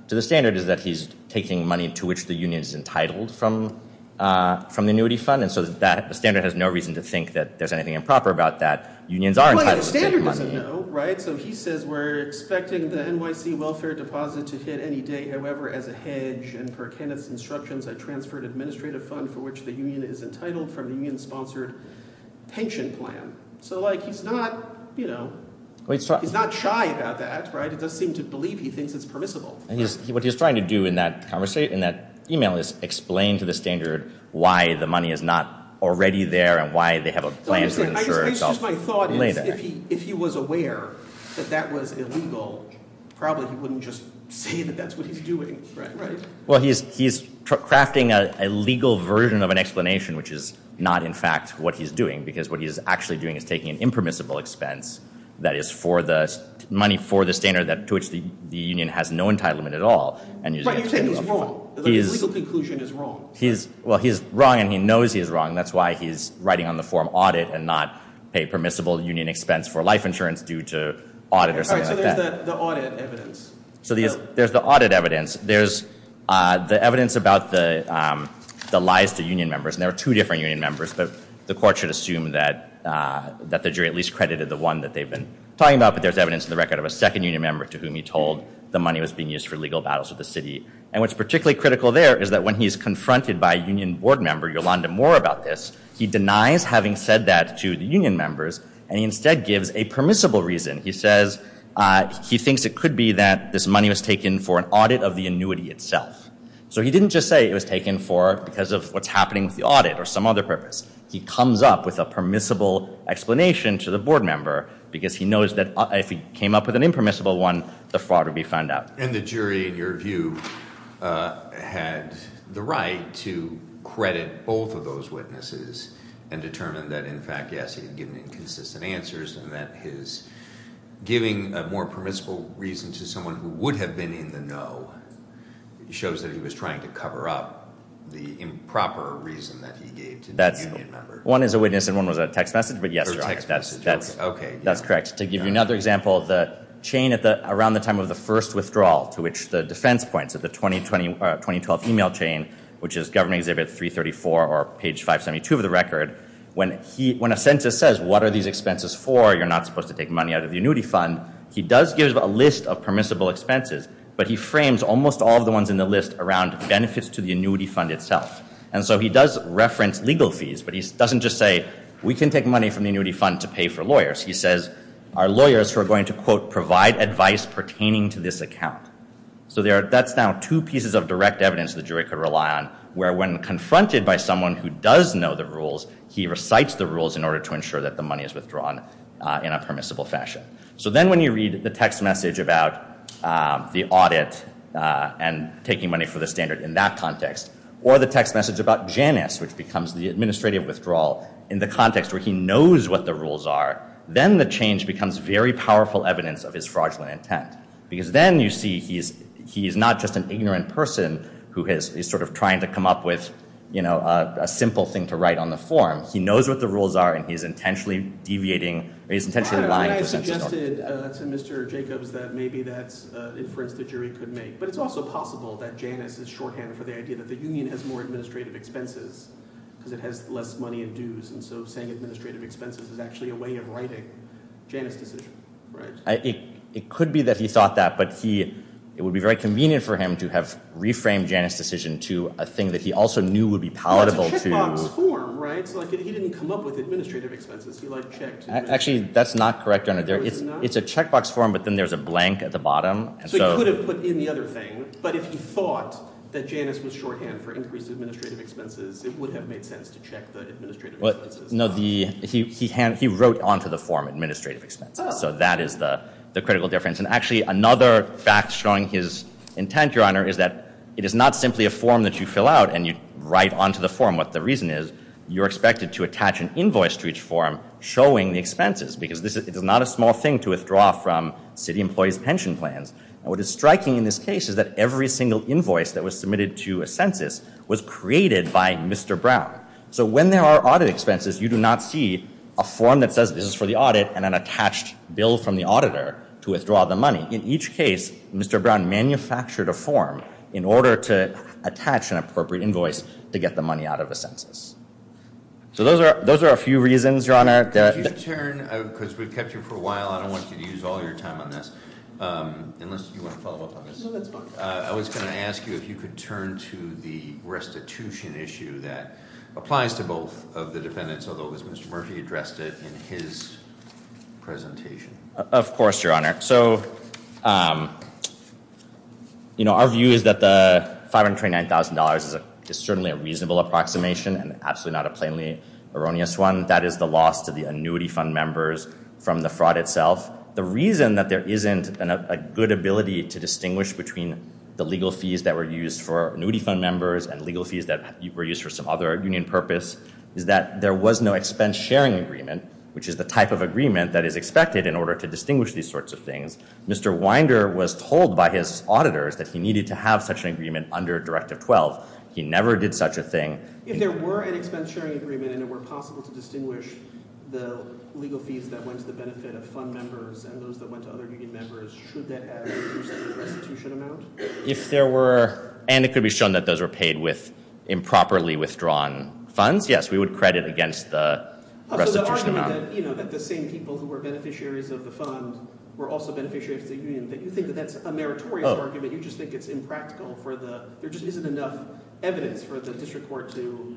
the standard is that he's taking money to which the union is entitled from the annuity fund. And so that the standard has no reason to think that there's anything improper about that. Unions are entitled to take money. Well, the standard doesn't know, right? So he says, we're expecting the NYC welfare deposit to hit any day, however, as a hedge. And per Kenneth's instructions, I transferred administrative fund for which the union is entitled from the union-sponsored pension plan. So, like, he's not, you know, he's not shy about that, right? It does seem to believe he thinks it's permissible. And he's- what he's trying to do in that conversation, in that email, is explain to the standard why the money is not already there and why they have a plan to insure itself later. I guess just my thought is, if he was aware that that was illegal, probably he wouldn't just say that that's what he's doing, right? Well, he's crafting a legal version of an explanation, which is not, in fact, what he's doing. Because what he's actually doing is taking an impermissible expense that is for the money for the standard to which the union has no entitlement at all, and using- But you're saying he's wrong. The legal conclusion is wrong. Well, he's wrong, and he knows he's wrong. That's why he's writing on the form audit and not pay permissible union expense for life insurance due to audit or something like that. All right, so there's the audit evidence. So there's the audit evidence. There's the evidence about the lies to union members. And there are two different union members, but the court should assume that the jury at least credited the one that they've been talking about. But there's evidence in the record of a second union member to whom he told the money was being used for legal battles with the city. And what's particularly critical there is that when he's confronted by a union board member, Yolanda Moore, about this, he denies having said that to the union members, and he instead gives a permissible reason. He says he thinks it could be that this money was taken for an audit of the annuity itself. So he didn't just say it was taken for, because of what's happening with the audit or some other purpose. He comes up with a permissible explanation to the board member, because he knows that if he came up with an impermissible one, the fraud would be found out. And the jury, in your view, had the right to credit both of those witnesses, and determine that, in fact, yes, he had given inconsistent answers, and that his giving a more permissible reason to someone who would have been in the no It shows that he was trying to cover up the improper reason that he gave to the union member. One is a witness, and one was a text message, but yes, your honor, that's correct. To give you another example, the chain around the time of the first withdrawal, to which the defense points at the 2012 email chain, which is government exhibit 334 or page 572 of the record. When a census says, what are these expenses for? You're not supposed to take money out of the annuity fund. He does give a list of permissible expenses, but he frames almost all of the ones in the list around benefits to the annuity fund itself. And so he does reference legal fees, but he doesn't just say, we can take money from the annuity fund to pay for lawyers. He says, our lawyers who are going to quote, provide advice pertaining to this account. So that's now two pieces of direct evidence the jury could rely on, where when confronted by someone who does know the rules, he recites the rules in order to ensure that the money is withdrawn in a permissible fashion. So then when you read the text message about the audit and taking money for the standard in that context, or the text message about Janus, which becomes the administrative withdrawal in the context where he knows what the rules are, then the change becomes very powerful evidence of his fraudulent intent. Because then you see he's not just an ignorant person who is sort of trying to come up with a simple thing to write on the form. He knows what the rules are and he's intentionally deviating, or he's intentionally lying to the census. So you suggested to Mr. Jacobs that maybe that's an inference the jury could make. But it's also possible that Janus is shorthand for the idea that the union has more administrative expenses because it has less money in dues. And so saying administrative expenses is actually a way of writing Janus' decision, right? It could be that he thought that, but it would be very convenient for him to have reframed Janus' decision to a thing that he also knew would be palatable to- It's a checkbox form, right? So he didn't come up with administrative expenses. He checked. Actually, that's not correct, Your Honor. It's a checkbox form, but then there's a blank at the bottom. So he could have put in the other thing, but if he thought that Janus was shorthand for increased administrative expenses, it would have made sense to check the administrative expenses. No, he wrote onto the form administrative expenses. So that is the critical difference. And actually, another fact showing his intent, Your Honor, is that it is not simply a form that you fill out and you write onto the form. What the reason is, you're expected to attach an invoice to each form showing the expenses, because it is not a small thing to withdraw from city employees' pension plans. And what is striking in this case is that every single invoice that was submitted to a census was created by Mr. Brown. So when there are audit expenses, you do not see a form that says this is for the audit and an attached bill from the auditor to withdraw the money. In each case, Mr. Brown manufactured a form in order to attach an appropriate invoice to get the money out of the census. So those are a few reasons, Your Honor. That- Could you turn, because we've kept you for a while, I don't want you to use all your time on this, unless you want to follow up on this. No, that's fine. I was going to ask you if you could turn to the restitution issue that applies to both of the defendants, although it was Mr. Murphy addressed it in his presentation. Of course, Your Honor. So our view is that the $529,000 is certainly a reasonable approximation and absolutely not a plainly erroneous one. That is the loss to the annuity fund members from the fraud itself. The reason that there isn't a good ability to distinguish between the legal fees that were used for annuity fund members and legal fees that were used for some other union purpose is that there was no expense sharing agreement, which is the type of agreement that is expected in order to distinguish these sorts of things. Mr. Winder was told by his auditors that he needed to have such an agreement under Directive 12. He never did such a thing. If there were an expense sharing agreement and it were possible to distinguish the legal fees that went to the benefit of fund members and those that went to other union members, should that add up to the restitution amount? If there were, and it could be shown that those were paid with improperly withdrawn funds, yes, we would credit against the restitution amount. You're saying that the same people who were beneficiaries of the fund were also beneficiaries of the union, that you think that that's a meritorious argument. You just think it's impractical for the, there just isn't enough evidence for the district court to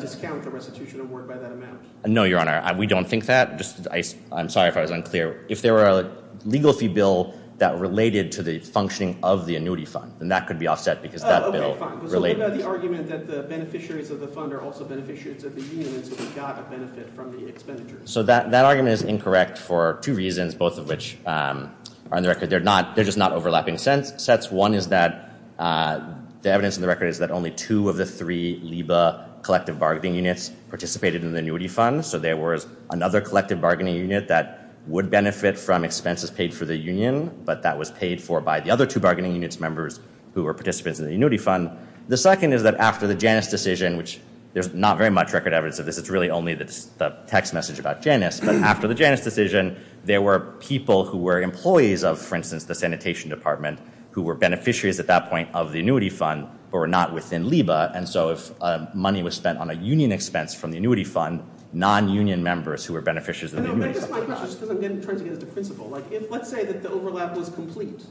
discount the restitution award by that amount. No, Your Honor, we don't think that. Just, I'm sorry if I was unclear. If there were a legal fee bill that related to the functioning of the annuity fund, then that could be offset because that bill related. So what about the argument that the beneficiaries of the fund are also beneficiaries of the union, so they got a benefit from the expenditures? So that argument is incorrect for two reasons, both of which are on the record. They're just not overlapping sets. One is that the evidence on the record is that only two of the three LIBA collective bargaining units participated in the annuity fund. So there was another collective bargaining unit that would benefit from expenses paid for the union, but that was paid for by the other two bargaining units members who were participants in the annuity fund. The second is that after the Janus decision, which there's not very much record evidence of this. It's really only the text message about Janus. But after the Janus decision, there were people who were employees of, for instance, the sanitation department, who were beneficiaries at that point of the annuity fund, but were not within LIBA. And so if money was spent on a union expense from the annuity fund, non-union members who were beneficiaries of the annuity fund were not. I guess my question, just because I'm trying to get at the principle, like if, let's say that the overlap was complete.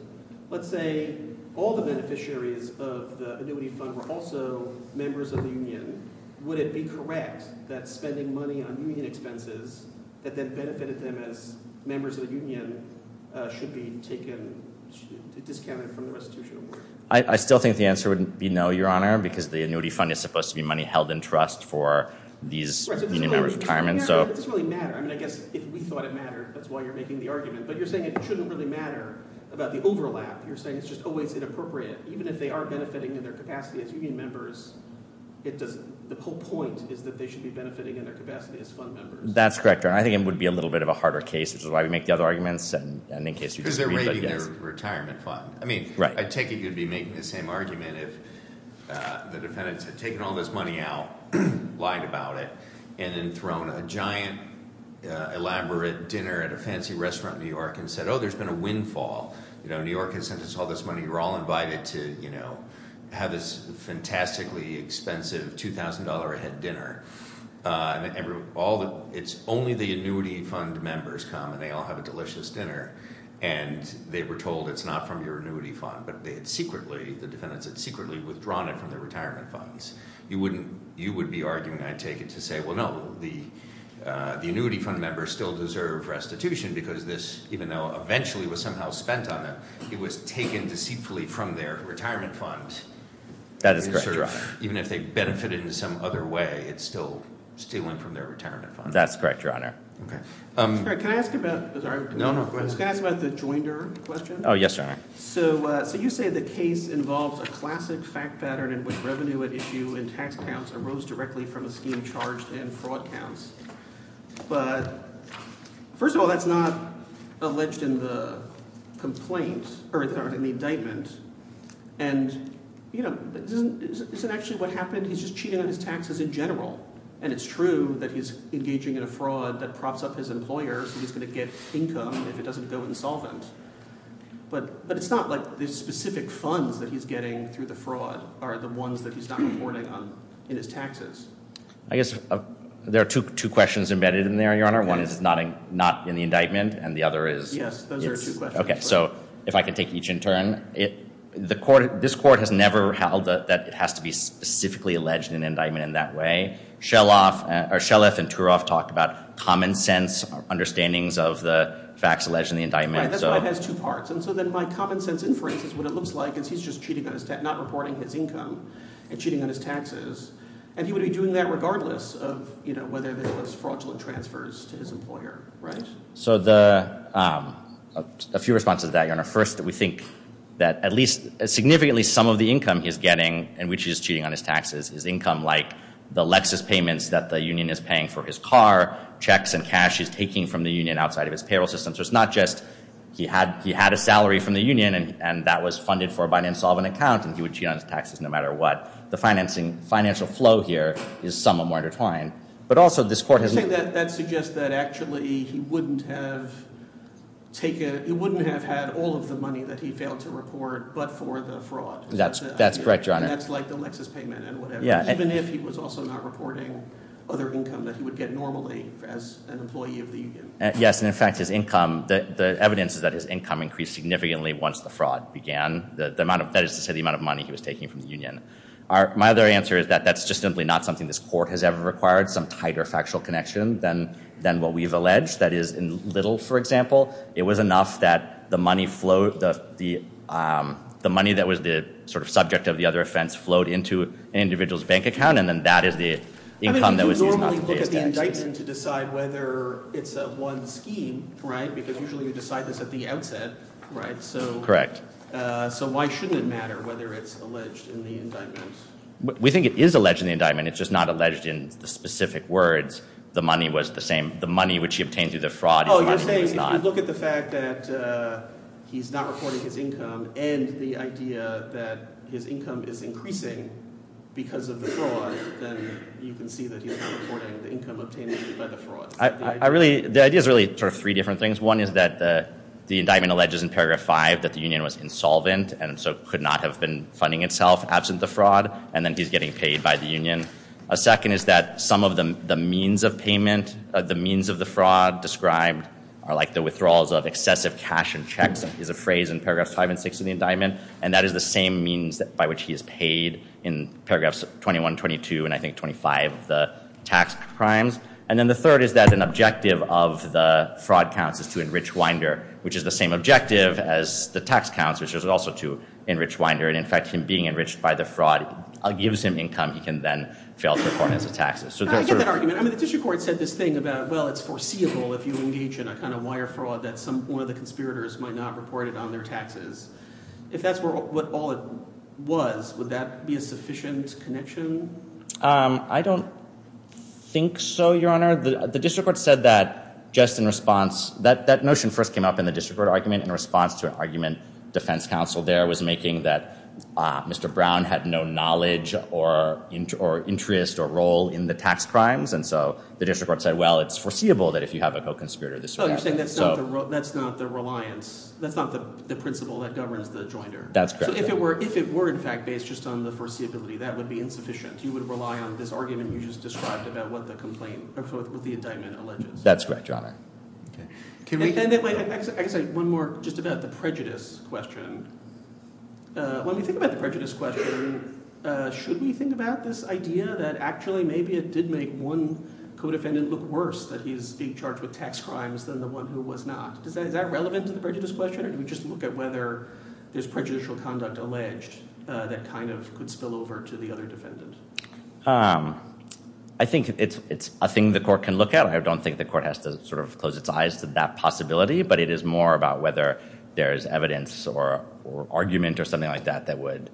Let's say all the beneficiaries of the annuity fund were also members of the union. Would it be correct that spending money on union expenses that then benefited them as members of the union should be taken, discounted from the restitution award? I still think the answer would be no, Your Honor, because the annuity fund is supposed to be money held in trust for these union members' retirement. And so- It doesn't really matter. I mean, I guess if we thought it mattered, that's why you're making the argument. But you're saying it shouldn't really matter about the overlap. You're saying it's just always inappropriate, even if they are benefiting in their capacity as union members. It doesn't, the whole point is that they should be benefiting in their capacity as fund members. That's correct, Your Honor. I think it would be a little bit of a harder case, which is why we make the other arguments, and in case you disagree, but yes. Because they're raiding their retirement fund. I mean, I take it you'd be making the same argument if the defendants had taken all this money out, lied about it, and then thrown a giant, elaborate dinner at a fancy restaurant in New York and said, there's been a windfall. New York has sent us all this money, we're all invited to have this fantastically expensive $2,000 a head dinner. And it's only the annuity fund members come, and they all have a delicious dinner. And they were told it's not from your annuity fund, but they had secretly, the defendants had secretly withdrawn it from their retirement funds. You would be arguing, I'd take it, to say, well no, the annuity fund members still deserve restitution, because this, even though eventually was somehow spent on them, it was taken deceitfully from their retirement fund. That is correct, Your Honor. Even if they benefited in some other way, it's still stealing from their retirement fund. That's correct, Your Honor. Sorry, can I ask about, sorry. No, no, go ahead. I was going to ask about the Joinder question. Yes, Your Honor. So you say the case involves a classic fact pattern in which revenue at issue in tax accounts arose directly from a scheme charged in fraud counts. But, first of all, that's not alleged in the complaint, or in the indictment. And, you know, isn't actually what happened, he's just cheating on his taxes in general. And it's true that he's engaging in a fraud that props up his employer, so he's going to get income if it doesn't go insolvent. But it's not like the specific funds that he's getting through the fraud are the ones that he's not reporting on in his taxes. I guess there are two questions embedded in there, Your Honor. One is not in the indictment, and the other is. Yes, those are two questions. Okay, so if I can take each in turn. The court, this court has never held that it has to be specifically alleged in indictment in that way. Shellef and Turov talked about common sense understandings of the facts alleged in the indictment. Right, that's why it has two parts. And so then my common sense inference is what it looks like is he's just cheating on his tax, not reporting his income, and cheating on his taxes. And he would be doing that regardless of whether there was fraudulent transfers to his employer, right? So a few responses to that, Your Honor. First, we think that at least significantly some of the income he's getting, and which he's cheating on his taxes, is income like the Lexus payments that the union is paying for his car, checks and cash he's taking from the union outside of his payroll system. So it's not just he had a salary from the union, and that was funded for by an insolvent account, and he would cheat on his taxes no matter what. The financial flow here is somewhat more intertwined. But also this court has- You're saying that that suggests that actually he wouldn't have had all of the money that he failed to report but for the fraud. That's correct, Your Honor. That's like the Lexus payment and whatever, even if he was also not reporting other income that he would get normally as an employee of the union. Yes, and in fact, his income, the evidence is that his income increased significantly once the fraud began. That is to say the amount of money he was taking from the union. My other answer is that that's just simply not something this court has ever required, some tighter factual connection than what we've alleged. That is, in Little, for example, it was enough that the money that was the sort of subject of the other offense flowed into an individual's bank account, and then that is the income that was used not to pay his taxes. So it's up to the indictment to decide whether it's a one scheme, right, because usually you decide this at the outset, right? So why shouldn't it matter whether it's alleged in the indictment? We think it is alleged in the indictment. It's just not alleged in the specific words. The money was the same. The money which he obtained through the fraud- Oh, you're saying if you look at the fact that he's not reporting his income and the idea that his income is increasing because of the fraud, then you can see that he's not reporting the income obtained by the fraud. The idea is really sort of three different things. One is that the indictment alleges in paragraph five that the union was insolvent and so could not have been funding itself absent the fraud, and then he's getting paid by the union. A second is that some of the means of payment, the means of the fraud described are like the withdrawals of excessive cash and checks, is a phrase in paragraphs five and six of the indictment, and that is the same means by which he is paid in paragraphs 21, 22, and I think 25 of the tax crimes. And then the third is that an objective of the fraud counts is to enrich Winder, which is the same objective as the tax counts, which is also to enrich Winder. And in fact, him being enriched by the fraud gives him income he can then fail to report as a taxes. I get that argument. I mean, the district court said this thing about, well, it's foreseeable if you engage in a kind of wire fraud that one of the conspirators might not report it on their taxes. If that's what all it was, would that be a sufficient connection? I don't think so, Your Honor. The district court said that just in response, that notion first came up in the district court argument in response to an argument defense counsel there was making that Mr. Brown had no knowledge or interest or role in the tax crimes, and so the district court said, well, it's foreseeable that if you have a co-conspirator, this would happen. You're saying that's not the reliance, that's not the principle that governs the jointer. That's correct. If it were in fact based just on the foreseeability, that would be insufficient. You would rely on this argument you just described about what the indictment alleges. That's correct, Your Honor. I guess one more just about the prejudice question. When we think about the prejudice question, should we think about this idea that actually maybe it did make one co-defendant look worse that he's being charged with tax crimes than the one who was not? Is that relevant to the prejudice question, or do we just look at whether there's prejudicial conduct alleged that kind of could spill over to the other defendant? I think it's a thing the court can look at. I don't think the court has to sort of close its eyes to that possibility, but it is more about whether there's evidence or argument or something like that that would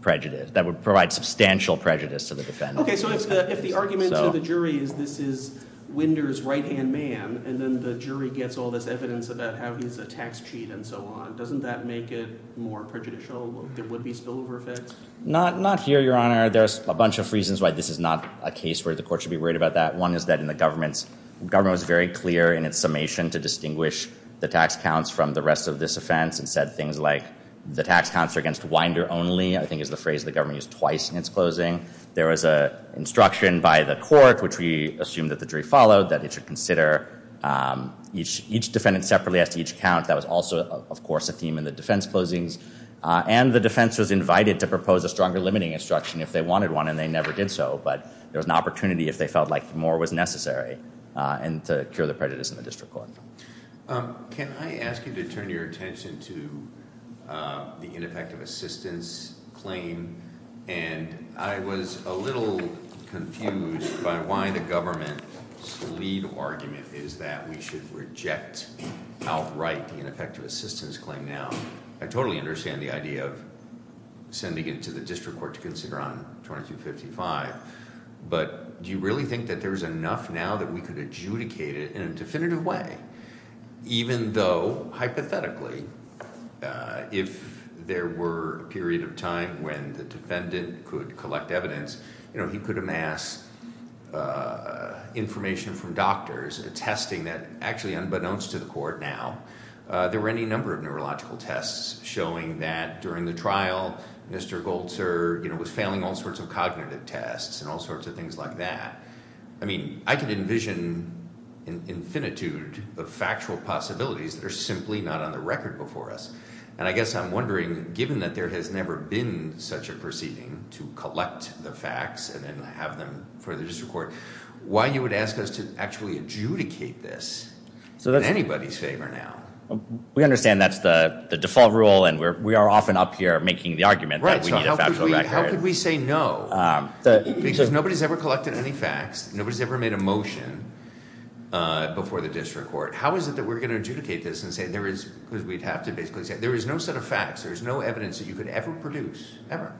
provide substantial prejudice to the defendant. Okay, so if the argument to the jury is this is Winder's right-hand man, and then the jury gets all this evidence about how he's a tax cheat and so on, doesn't that make it more prejudicial, there would be spillover effects? Not here, Your Honor. There's a bunch of reasons why this is not a case where the court should be worried about that. One is that the government was very clear in its summation to distinguish the tax counts from the rest of this offense and said things like, the tax counts are against Winder only, I think is the phrase the government used twice in its closing. There was an instruction by the court, which we assume that the jury followed, that it should consider each defendant separately as to each count. That was also, of course, a theme in the defense closings. And the defense was invited to propose a stronger limiting instruction if they wanted one, and they never did so. But there was an opportunity if they felt like more was necessary, and to cure the prejudice in the district court. Can I ask you to turn your attention to the ineffective assistance claim? And I was a little confused by why the government's lead argument is that we should reject outright the ineffective assistance claim now. I totally understand the idea of sending it to the district court to consider on 2255. But do you really think that there's enough now that we could adjudicate it in a definitive way? Even though, hypothetically, if there were a period of time when the defendant could collect evidence, he could amass information from doctors, testing that actually unbeknownst to the court now, there were any number of neurological tests showing that during the trial, Mr. Golter was failing all sorts of cognitive tests and all sorts of things like that. I mean, I can envision an infinitude of factual possibilities that are simply not on the record before us. And I guess I'm wondering, given that there has never been such a proceeding to collect the facts and have them for the district court, why you would ask us to actually adjudicate this in anybody's favor now? We understand that's the default rule and we are often up here making the argument that we need a factual record. How could we say no? Because nobody's ever collected any facts, nobody's ever made a motion before the district court. How is it that we're going to adjudicate this and say there is, because we'd have to basically say, there is no set of facts, there is no evidence that you could ever produce, ever,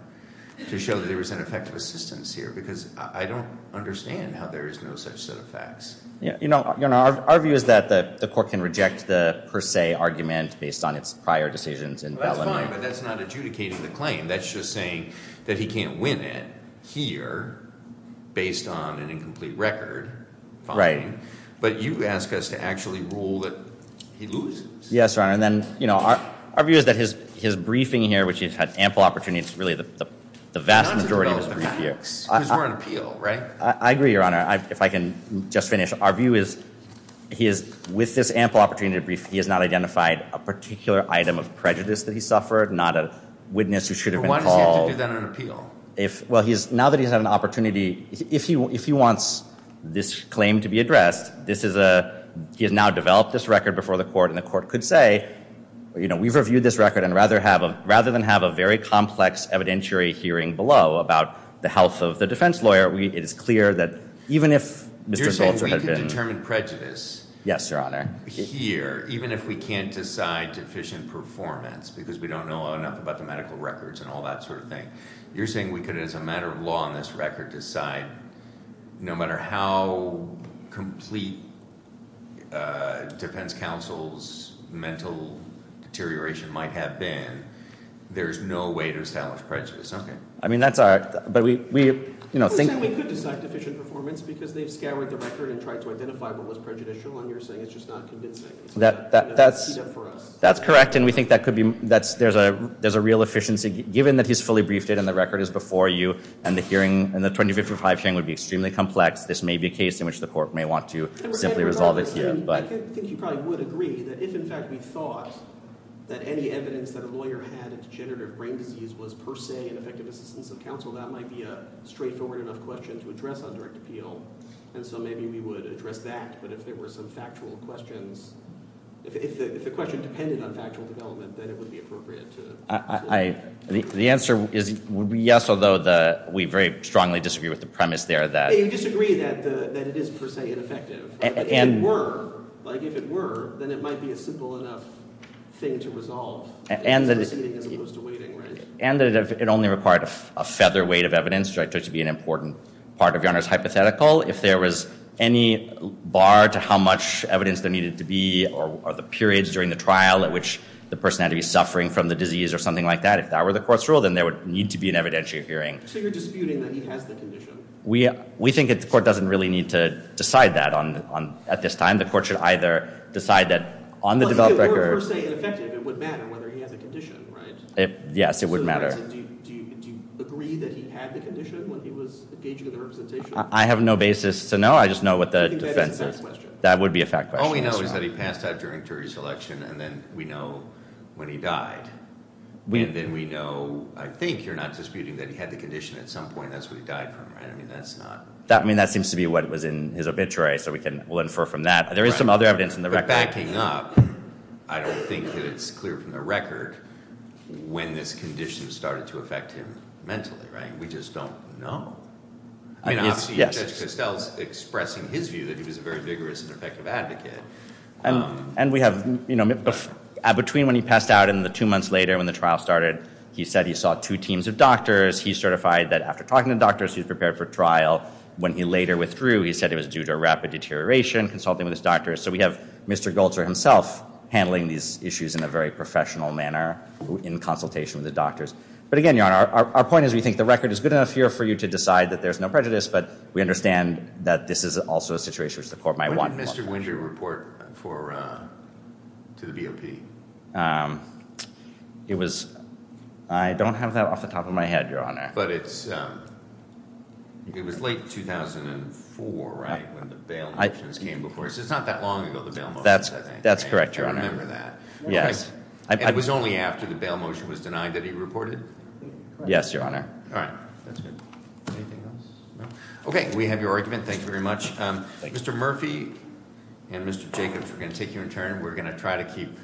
to show that there was an effect of assistance here. Because I don't understand how there is no such set of facts. Our view is that the court can reject the per se argument based on its prior decisions. And that's fine, but that's not adjudicating the claim. That's just saying that he can't win it here based on an incomplete record. Right. But you ask us to actually rule that he loses. Yes, Your Honor, and then our view is that his briefing here, which he's had ample opportunity, it's really the vast majority of his brief here. Because we're on appeal, right? I agree, Your Honor. If I can just finish, our view is he is, with this ample opportunity to brief, he has not identified a particular item of prejudice that he suffered, not a witness who should have been called. Why does he have to do that on appeal? Well, now that he's had an opportunity, if he wants this claim to be addressed, he has now developed this record before the court, and the court could say, we've reviewed this record, and rather than have a very complex evidentiary hearing below about the health of the defense lawyer, it is clear that even if Mr. Bolger had been- You're saying we can determine prejudice- Yes, Your Honor. Here, even if we can't decide deficient performance, because we don't know enough about the medical records and all that sort of thing. You're saying we could, as a matter of law on this record, decide, no matter how complete defense counsel's mental deterioration might have been, there's no way to establish prejudice, okay. I mean, that's all right, but we, you know, think- You're saying we could decide deficient performance because they've scoured the record and tried to identify what was prejudicial, and you're saying it's just not convincing. That's correct, and we think that could be, there's a real efficiency. Given that he's fully briefed it and the record is before you, and the hearing, and the 2055 hearing would be extremely complex, this may be a case in which the court may want to simply resolve it here. I think you probably would agree that if, in fact, we thought that any evidence that a lawyer had of degenerative brain disease was per se an effective assistance of counsel, that might be a straightforward enough question to address on direct appeal, and so maybe we would address that. But if there were some factual questions, if the question depended on factual development, then it would be appropriate to- The answer would be yes, although we very strongly disagree with the premise there that- You disagree that it is per se ineffective, but if it were, like if it were, then it might be a simple enough thing to resolve, as opposed to waiting, right? And that it only required a featherweight of evidence, which I took to be an important part of your Honor's hypothetical. If there was any bar to how much evidence there needed to be, or the periods during the trial at which the person had to be suffering from the disease or something like that, if that were the court's rule, then there would need to be an evidentiary hearing. So you're disputing that he has the condition? We think the court doesn't really need to decide that at this time. The court should either decide that on the developed record- Well, if it were per se ineffective, it would matter whether he has a condition, right? Yes, it would matter. So do you agree that he had the condition when he was engaging in the representation? I have no basis to know. I just know what the defense is. That would be a fact question. All we know is that he passed out during jury selection, and then we know when he died. And then we know, I think you're not disputing that he had the condition at some point, and that's where he died from, right? I mean, that's not- I mean, that seems to be what was in his obituary, so we'll infer from that. There is some other evidence in the record. But backing up, I don't think that it's clear from the record when this condition started to affect him mentally, right? We just don't know. I mean, obviously, Judge Costell is expressing his view that he was a very vigorous and effective advocate. And we have, you know, in between when he passed out and the two months later when the trial started, he said he saw two teams of doctors. He certified that after talking to doctors, he was prepared for trial. When he later withdrew, he said it was due to a rapid deterioration, consulting with his doctors. So we have Mr. Goltzer himself handling these issues in a very professional manner in consultation with the doctors. But again, Your Honor, our point is we think the record is good enough here for you to decide that there's no prejudice, but we understand that this is also a situation which the court might want more. When did Mr. Winder report to the BOP? It was- I don't have that off the top of my head, Your Honor. But it's- it was late 2004, right, when the bail motions came before? So it's not that long ago, the bail motions, I think. That's correct, Your Honor. I remember that. Yes. And it was only after the bail motion was denied that he reported? Yes, Your Honor. All right. That's good. Anything else? No? Okay, we have your argument. Thank you very much. Mr. Murphy and Mr. Jacobs, we're going to take you in turn. We're going to try to keep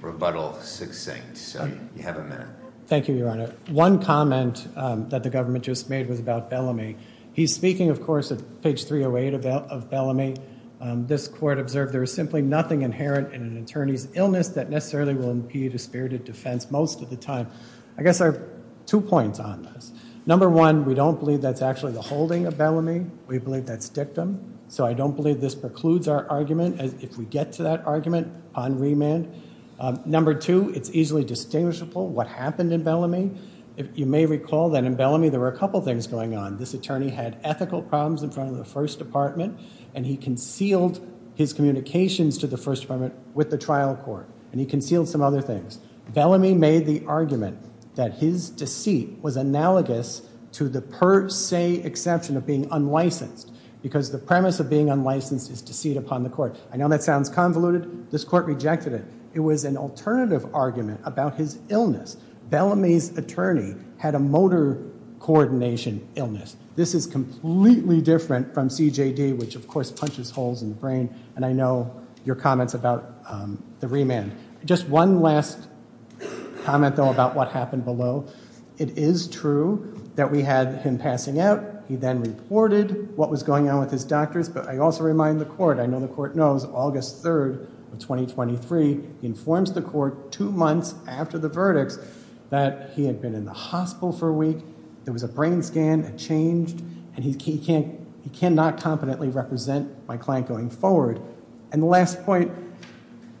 rebuttal succinct, so you have a minute. Thank you, Your Honor. One comment that the government just made was about Bellamy. He's speaking, of course, at page 308 of Bellamy. This court observed there is simply nothing inherent in an attorney's illness that necessarily will impede a spirited defense most of the time. I guess I have two points on this. Number one, we don't believe that's actually the holding of Bellamy. We believe that's dictum. So I don't believe this precludes our argument. If we get to that argument on remand. Number two, it's easily distinguishable what happened in Bellamy. You may recall that in Bellamy there were a couple things going on. This attorney had ethical problems in front of the First Department. And he concealed his communications to the First Department with the trial court. And he concealed some other things. Bellamy made the argument that his deceit was analogous to the per se exception of being unlicensed. Because the premise of being unlicensed is deceit upon the court. I know that sounds convoluted. This court rejected it. It was an alternative argument about his illness. Bellamy's attorney had a motor coordination illness. This is completely different from CJD, which of course punches holes in the brain. And I know your comments about the remand. Just one last comment, though, about what happened below. It is true that we had him passing out. He then reported what was going on with his doctors. But I also remind the court, I know the court knows, August 3rd of 2023, he informs the court two months after the verdict that he had been in the hospital for a week. There was a brain scan. And he cannot competently represent my client going forward. And the last point,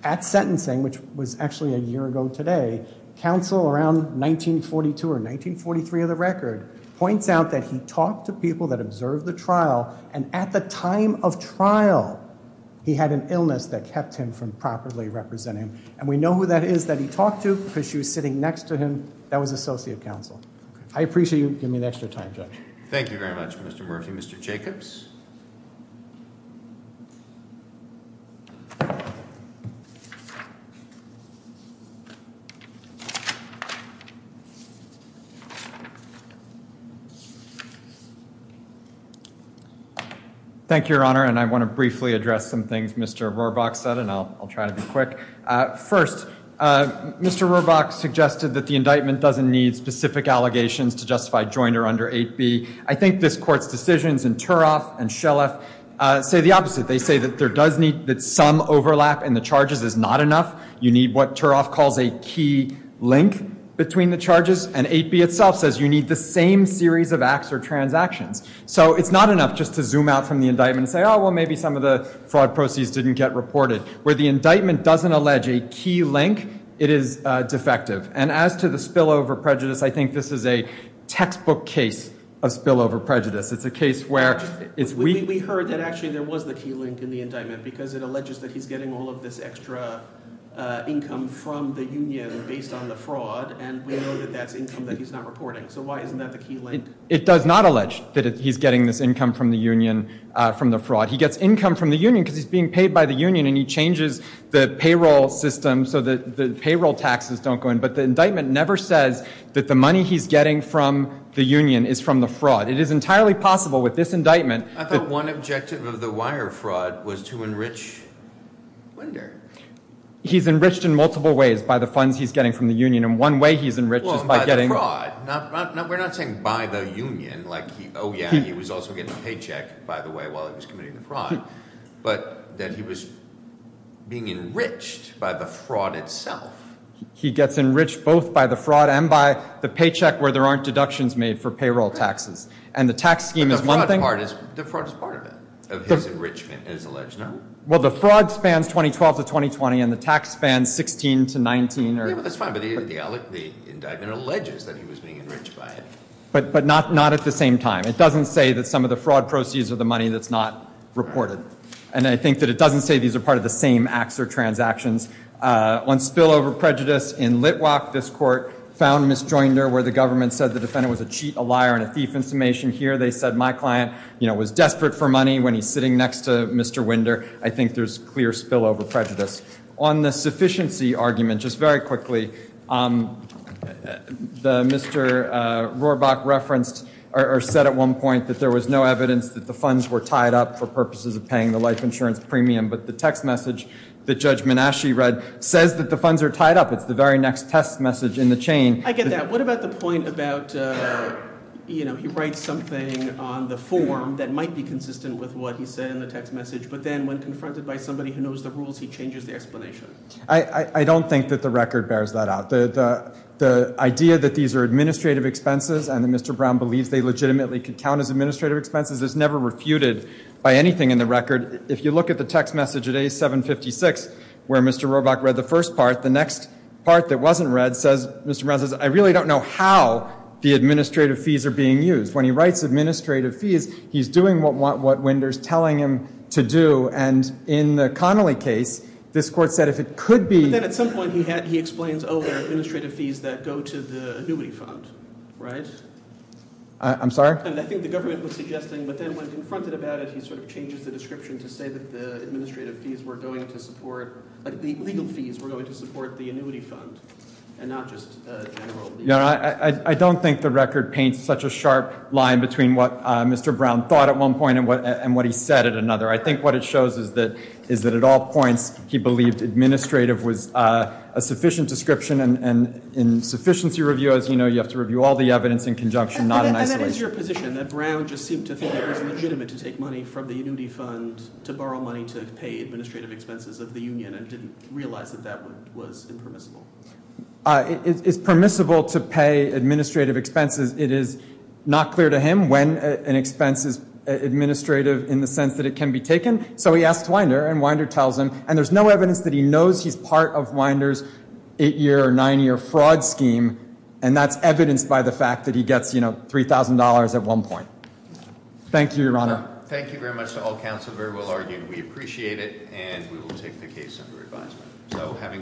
at sentencing, which was actually a year ago today, counsel around 1942 or 1943 of the record, points out that he talked to people that observed the trial. And at the time of trial, he had an illness that kept him from properly representing. And we know who that is that he talked to because she was sitting next to him. That was associate counsel. I appreciate you giving me an extra time, Judge. Thank you very much, Mr. Murphy. Mr. Jacobs? Thank you, Your Honor. And I want to briefly address some things Mr. Rohrbach said, and I'll try to be quick. First, Mr. Rohrbach suggested that the indictment doesn't need specific allegations to justify Joiner under 8b. I think this court's decisions in Turoff and Schellef say the opposite. They say that some overlap in the charges is not enough. You need what Turoff calls a key link between the charges. And 8b itself says you need the same series of acts or transactions. So it's not enough just to zoom out from the indictment and say, oh, well, maybe some of the fraud proceeds didn't get reported. Where the indictment doesn't allege a key link, it is defective. And as to the spillover prejudice, I think this is a textbook case of spillover prejudice. It's a case where it's weak. We heard that actually there was the key link in the indictment because it alleges that he's getting all of this extra income from the union based on the fraud, and we know that that's income that he's not reporting. So why isn't that the key link? It does not allege that he's getting this income from the union from the fraud. He gets income from the union because he's being paid by the union, and he changes the payroll system so that the payroll taxes don't go in. But the indictment never says that the money he's getting from the union is from the fraud. It is entirely possible with this indictment. I thought one objective of the wire fraud was to enrich Winder. He's enriched in multiple ways by the funds he's getting from the union, Well, by the fraud. We're not saying by the union. Like, oh, yeah, he was also getting a paycheck, by the way, while he was committing the fraud, but that he was being enriched by the fraud itself. He gets enriched both by the fraud and by the paycheck where there aren't deductions made for payroll taxes, and the tax scheme is one thing. The fraud is part of it, of his enrichment, it is alleged, no? Well, the fraud spans 2012 to 2020, and the tax spans 16 to 19. That's fine, but the indictment alleges that he was being enriched by it. But not at the same time. It doesn't say that some of the fraud proceeds are the money that's not reported, and I think that it doesn't say these are part of the same acts or transactions. On spillover prejudice in Litwack, this court found misjoinder where the government said the defendant was a cheat, a liar, and a thief in summation. Here they said my client was desperate for money when he's sitting next to Mr. Winder. I think there's clear spillover prejudice. On the sufficiency argument, just very quickly, Mr. Rohrbach referenced or said at one point that there was no evidence that the funds were tied up for purposes of paying the life insurance premium, but the text message that Judge Menasche read says that the funds are tied up. It's the very next test message in the chain. I get that. What about the point about, you know, he writes something on the form that might be consistent with what he said in the text message, but then when confronted by somebody who knows the rules, he changes the explanation? I don't think that the record bears that out. The idea that these are administrative expenses and that Mr. Brown believes they legitimately could count as administrative expenses is never refuted by anything in the record. If you look at the text message at A756 where Mr. Rohrbach read the first part, the next part that wasn't read says Mr. Brown says I really don't know how the administrative fees are being used. When he writes administrative fees, he's doing what Winder's telling him to do, and in the Connolly case, this Court said if it could be But then at some point he explains, oh, they're administrative fees that go to the annuity fund, right? I'm sorry? And I think the government was suggesting, but then when confronted about it, he sort of changes the description to say that the administrative fees were going to support, like the legal fees were going to support the annuity fund and not just general fees. I don't think the record paints such a sharp line between what Mr. Brown thought at one point and what he said at another. I think what it shows is that at all points he believed administrative was a sufficient description, and in sufficiency review, as you know, you have to review all the evidence in conjunction, not in isolation. And that is your position, that Brown just seemed to think it was legitimate to take money from the annuity fund to borrow money to pay administrative expenses of the union and didn't realize that that was impermissible. It's permissible to pay administrative expenses. It is not clear to him when an expense is administrative in the sense that it can be taken. So he asks Winder, and Winder tells him. And there's no evidence that he knows he's part of Winder's eight-year or nine-year fraud scheme, and that's evidenced by the fact that he gets, you know, $3,000 at one point. Thank you, Your Honor. Thank you very much to all counsel very well argued. We appreciate it, and we will take the case under advisement.